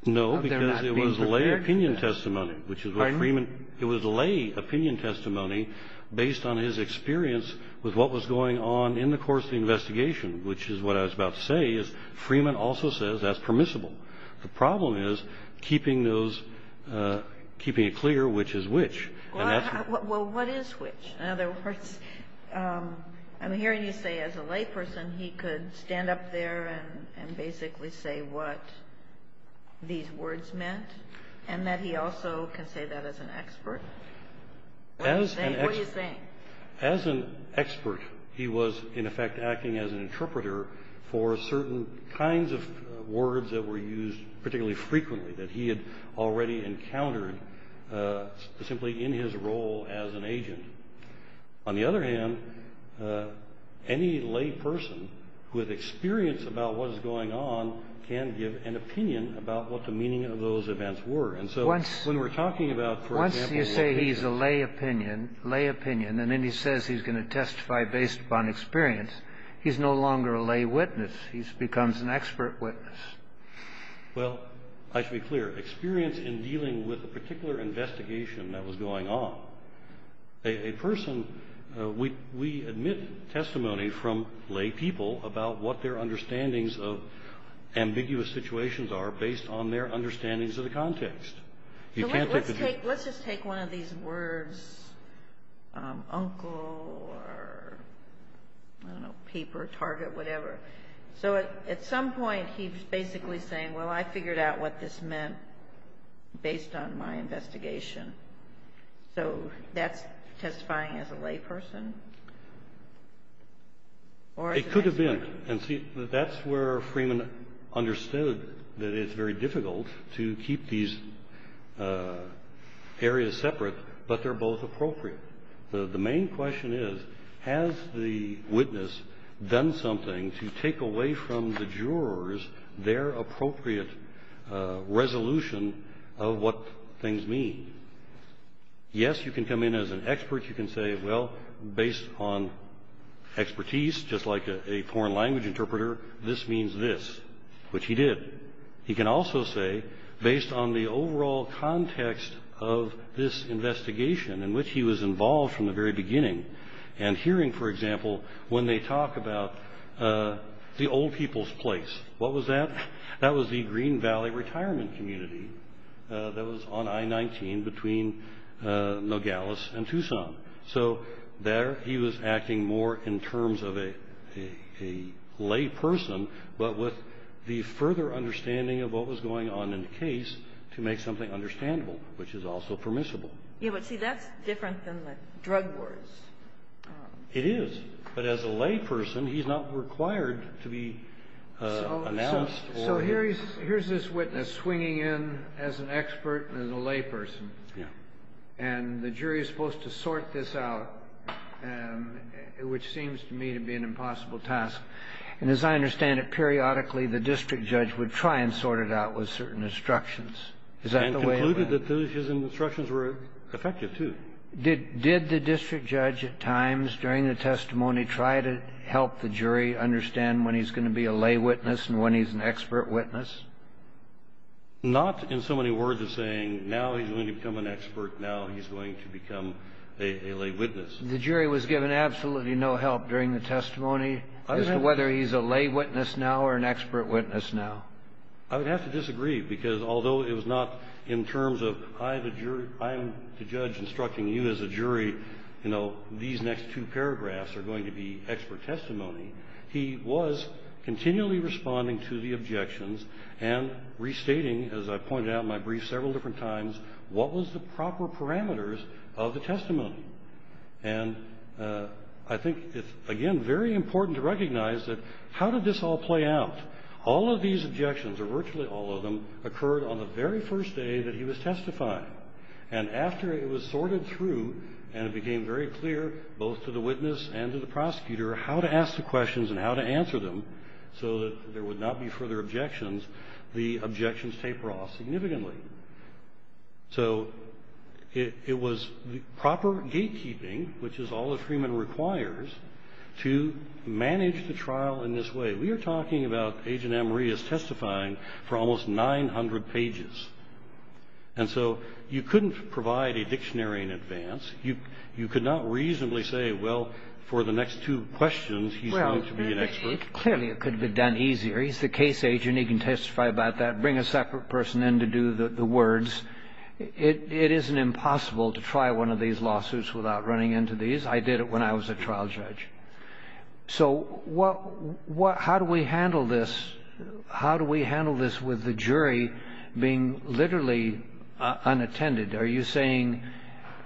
No, because it was a lay opinion testimony, which is what Friedman... Pardon? It was a lay opinion testimony based on his experience with what was going on in the course of the investigation, which is what I was about to say is Friedman also says that's permissible. The problem is keeping it clear which is which. Well, what is which? I'm hearing you say as a lay person he could stand up there and basically say what these words meant and that he also can say that as an expert. What do you think? As an expert, he was in effect acting as an interpreter for certain kinds of words that were used particularly frequently that he had already encountered simply in his role as an agent. On the other hand, any lay person with experience about what is going on can give an opinion about what the meaning of those events were. When we're talking about, for example... Once you say he's a lay opinion and then he says he's going to testify based upon experience, he's no longer a lay witness. He becomes an expert witness. Well, I should be clear. Experience in dealing with a particular investigation that was going on, a person... We admit testimony from lay people about what their understandings of ambiguous situations are based on their understandings of the context. Let's just take one of these words, uncle or peep or target, whatever. At some point, he's basically saying, well, I figured out what this meant based on my investigation. That's testifying as a lay person? It could have been. That's where Freeman understood that it's very difficult to keep these areas separate, but they're both appropriate. The main question is, has the witness done something to take away from the jurors their appropriate resolution of what things mean? Yes, you can come in as an expert. You can say, well, based on expertise, just like a foreign language interpreter, this means this, which he did. He can also say, based on the overall context of this investigation in which he was involved from the very beginning and hearing, for example, when they talk about the old people's place, what was that? That was the Green Valley Retirement Community that was on I-19 between Nogales and Tucson. There, he was acting more in terms of a lay person, but with the further understanding of what was going on in the case to make something understandable, which is also permissible. Yes, but see, that's different than the drug warrants. It is, but as a lay person, he's not required to be announced. Here's this witness swinging in as an expert and as a lay person. And the jury is supposed to sort this out, which seems to me to be an impossible task. And as I understand it, periodically, the district judge would try and sort it out with certain instructions. And concluded that those instructions were effective, too. Did the district judge at times during the testimony try to help the jury understand when he's going to be a lay witness and when he's an expert witness? Not in so many words as saying, now he's going to become an expert, now he's going to become a lay witness. The jury was given absolutely no help during the testimony as to whether he's a lay witness now or an expert witness now. I would have to disagree because although it was not in terms of, I'm the judge instructing you as a jury, these next two paragraphs are going to be expert testimony, he was continually responding to the objections and restating, as I pointed out in my brief several different times, what was the proper parameters of the testimony. And I think it's, again, very important to recognize that how did this all play out? All of these objections, or virtually all of them, occurred on the very first day that he was testifying. And after it was sorted through and it became very clear, both to the witness and to the prosecutor, how to ask the questions and how to answer them so that there would not be draw significantly. So it was proper gatekeeping, which is all the treatment requires, to manage the trial in this way. We are talking about Agent Amory is testifying for almost 900 pages. And so you couldn't provide a dictionary in advance. You could not reasonably say, well, for the next two questions, he's going to be an expert. Clearly, it could have been done easier. He's the case agent. He can testify about that. Bring a separate person in to do the words. It isn't impossible to try one of these lawsuits without running into these. I did it when I was a trial judge. So how do we handle this? How do we handle this with the jury being literally unattended? Are you saying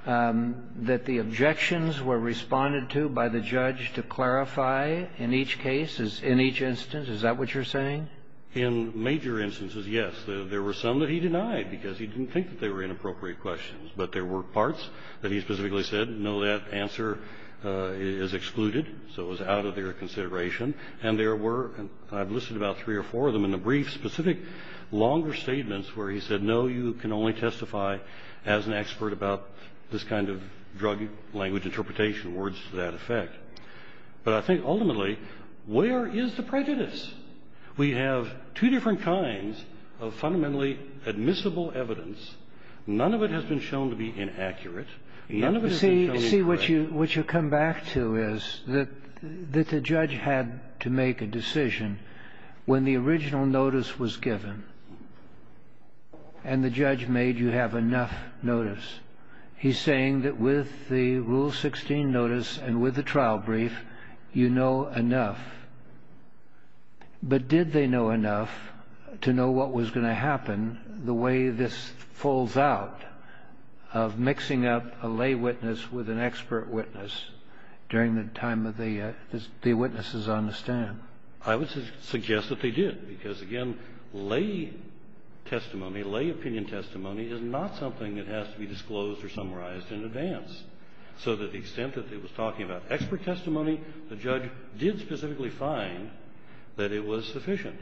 that the objections were responded to by the judge to clarify in each case, in each instance? Is that what you're saying? In major instances, yes. There were some that he denied because he didn't think that they were inappropriate questions. But there were parts that he specifically said, no, that answer is excluded. So it was out of their consideration. And there were, I've listed about three or four of them in the brief, specific, longer statements where he said, no, you can only testify as an expert about this kind of drug language interpretation, words to that effect. But I think ultimately, where is the prejudice? We have two different kinds of fundamentally admissible evidence. None of it has been shown to be inaccurate. See, what you come back to is that the judge had to make a decision when the original notice was given and the judge made you have enough notice. He's saying that with the Rule 16 notice and with the trial brief, you know enough. But did they know enough to know what was going to happen the way this falls out of mixing up a lay witness with an expert witness during the time of the witnesses on the stand? I would suggest that they did. Because again, lay testimony, lay opinion testimony is not something that has to be disclosed or summarized in advance. So to the extent that he was talking about expert testimony, the judge did specifically find that it was sufficient.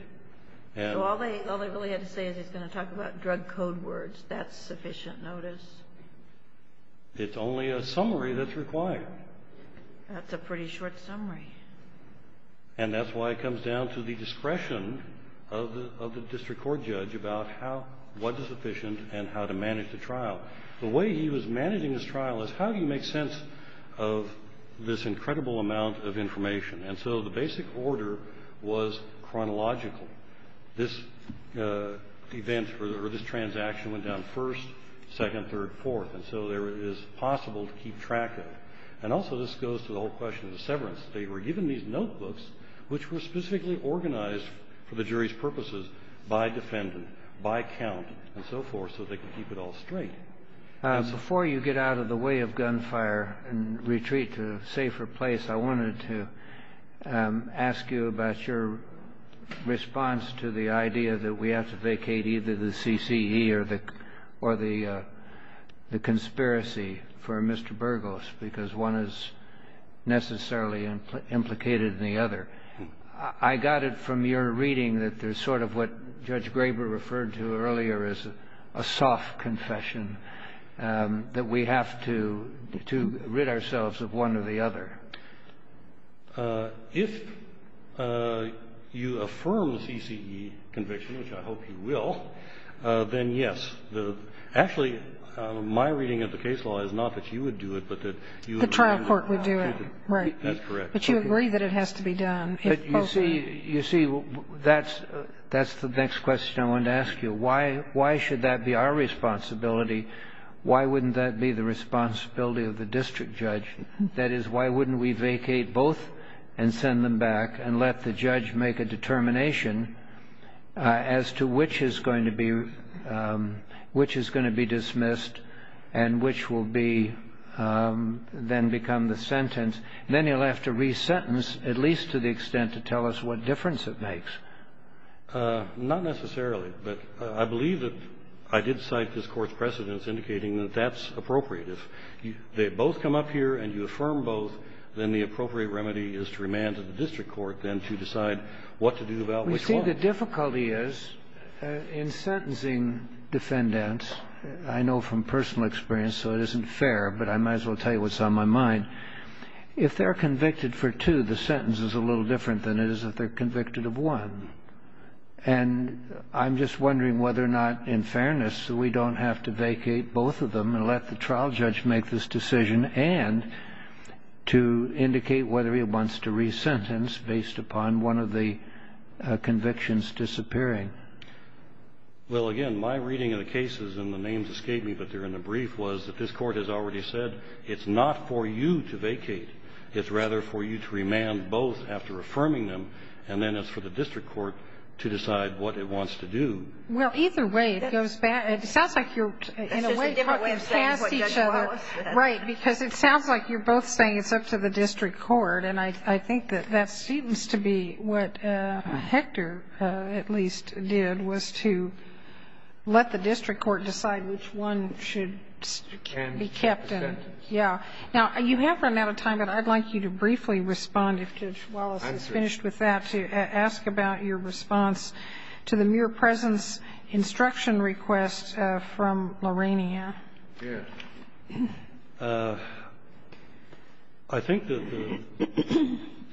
So all they really had to say is they're going to talk about drug code words. That's sufficient notice? It's only a summary that's required. That's a pretty short summary. And that's why it comes down to the discretion of the district court judge about what is sufficient and how to manage the trial. The way he was managing his trial is how do you make sense of this incredible amount of information? And so the basic order was chronological. This event or this transaction went down first, second, third, fourth. And so it is possible to keep track of it. And also this goes to the whole question of severance. They were given these notebooks which were specifically organized for the jury's purposes by defendant, by count, and so forth so they could keep it all in order. Before you get out of the way of gunfire and retreat to a safer place, I wanted to ask you about your response to the idea that we have to vacate either the CCE or the conspiracy for Mr. Burgos because one is necessarily implicated in the other. I got it from your reading that there's sort of what Judge Graber referred to earlier as a soft confession, that we have to rid ourselves of one or the other. If you affirm the CCE conviction, which I hope you will, then yes. Actually, my reading of the case law is not that you would do it, but that you agree that it has to be done. But you see, that's the next question I wanted to ask you. Why should that be our responsibility? Why wouldn't that be the responsibility of the district judge? That is, why wouldn't we vacate both and send them back and let the judge make a determination as to which is going to be dismissed and which will then become the sentence? Then you'll have to re-sentence at least to the extent to tell us what difference it makes. Not necessarily, but I believe that I did cite this Court's precedents indicating that that's appropriate. If they both come up here and you affirm both, then the appropriate remedy is to remand to the district court then to decide what to do about which one. You see, the difficulty is in sentencing defendants. I know from personal experience, so it isn't fair, but I might as well tell you what's on my mind. If they're convicted for two, the sentence is a little different than it is if they're convicted of one. I'm just wondering whether or not, in fairness, we don't have to vacate both of them and let the trial judge make this decision and to indicate whether he wants to re-sentence based upon one of the convictions disappearing. Well, again, my reading of the cases and the names escaping that they're in the brief was that this Court has already said it's not for you to vacate. It's rather for you to remand both after affirming them, and then it's for the district court to decide what it wants to do. Well, either way, it goes back. It sounds like you're, in a way, I think that that seems to be what Hector, at least, did was to let the district court decide which one should be kept. Now, you have run out of time, but I'd like you to briefly respond, if Judge Wallace is finished with that, to ask about your response to the mere presence instruction request from Lorena. I think that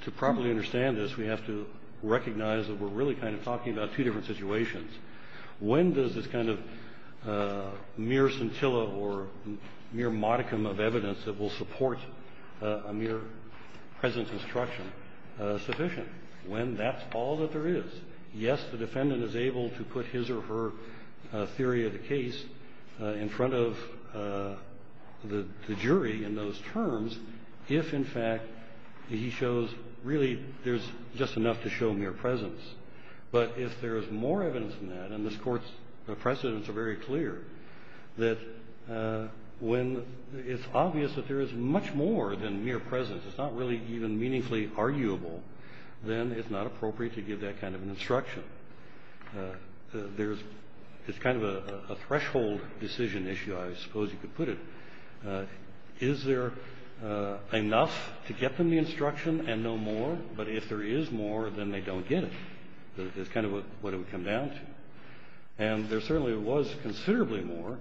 to properly understand this, we have to recognize that we're really kind of talking about two different situations. When does this kind of mere scintilla or mere modicum of evidence that will support a mere presence instruction sufficient? When that's all that there is. Yes, the defendant is able to put his or her theory of the case in front of the jury in those terms if, in fact, he shows really there's just enough to show mere presence. But if there is more evidence than that, and this Court's precedents are very clear, that when it's obvious that there is much more than mere presence, it's not really even meaningfully arguable, then it's not appropriate to give that kind of an instruction. It's kind of a threshold decision issue, I suppose you could put it. Is there enough to get from the instruction and no more? But if there is more, then they don't get it. It's kind of what it would come down to. And there certainly was considerably more,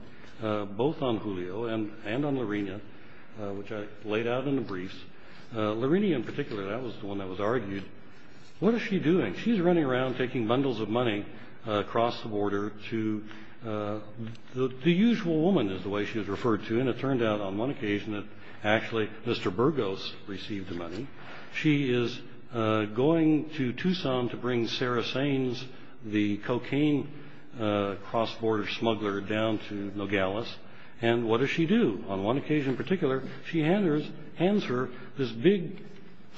both on Julio and on Lorena, which I laid out in the briefs. Lorena, in particular, that was the one that was argued. What is she doing? She's running around taking bundles of money across the border to the usual woman, is the way she was referred to. And it turned out on one occasion that actually Mr. Burgos received the money. She is going to Tucson to bring Sarah Sainz, the cocaine cross-border smuggler, down to Nogales. And what does she do? On one occasion in particular, she hands her this big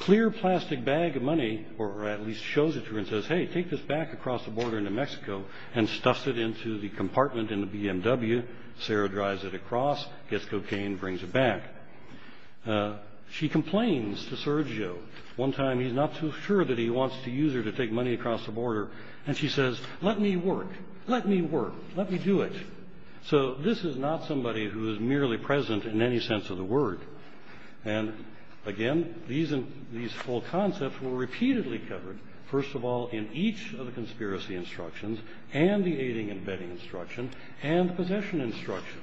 clear plastic bag of money, or at least shows it to her and says, hey, take this back across the border into Mexico, and stuffs it into the compartment in the BMW. Sarah drives it across, gets cocaine, brings it back. She complains to Sergio. One time he's not so sure that he wants to use her to take money across the border. And she says, let me work. Let me work. Let me do it. So this is not somebody who is merely present in any sense of the word. And again, these full concepts were repeatedly covered. First of all, in each of the conspiracy instructions, and the aiding and abetting instruction, and the possession instruction.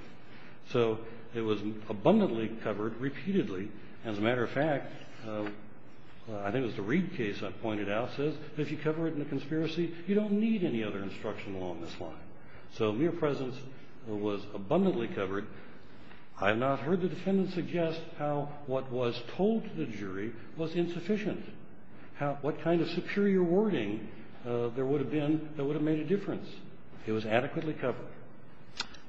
So it was abundantly covered repeatedly. As a matter of fact, I think it was the Reid case I pointed out, says if you cover it in the conspiracy, you don't need any other instruction along this line. So mere presence was abundantly covered. I've not heard the defendant suggest how what was told to the jury was insufficient. What kind of superior wording there would have been that would have made a difference. It was adequately covered.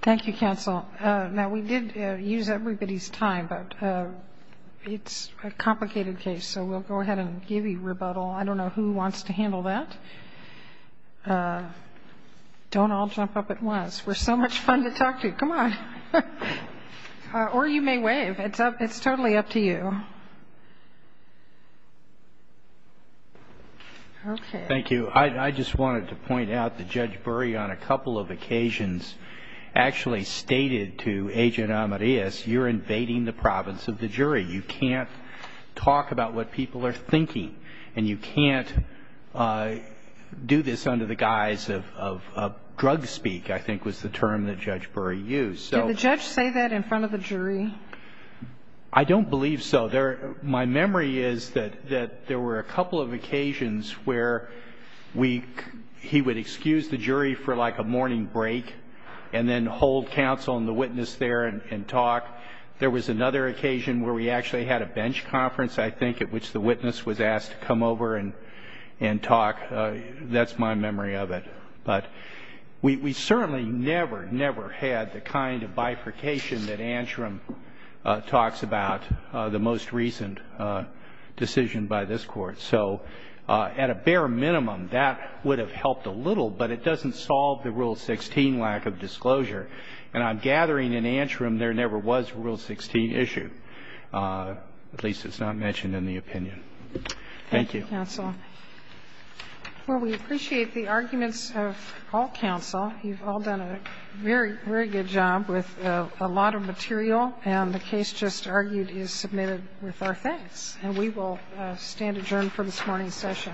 Thank you, counsel. Now, we did use everybody's time, but it's a complicated case, so we'll go ahead and give you rebuttal. I don't know who wants to handle that. Okay. Don't all jump up at once. We're so much fun to talk to. Come on. Or you may wave. It's certainly up to you. Okay. Thank you. I just wanted to point out that Judge Bury on a couple of occasions actually stated to Agent Amadeus, you're invading the province of the jury. You can't talk about what people are thinking, and you can't do this under the guise of drug speak, I think was the term that Judge Bury used. Did the judge say that in front of the jury? I don't believe so. My memory is that there were a couple of occasions where he would excuse the jury for like a morning break and then hold counsel and the witness there and talk. There was another occasion where we actually had a bench conference, I think, at which the witness was asked to come over and talk. That's my memory of it. But we certainly never, never had the kind of bifurcation that Antrim talks about, the most recent decision by this Court. So at a bare minimum, that would have helped a little, but it doesn't solve the Rule 16 lack of disclosure. And on gathering in Antrim, there never was a Rule 16 issue, at least it's not mentioned in the opinion. Thank you. Thank you, counsel. Well, we appreciate the arguments of all counsel. You've all done a very, very good job with a lot of material, and the case just argued is submitted with our thanks. And we will stand adjourned for this morning's session.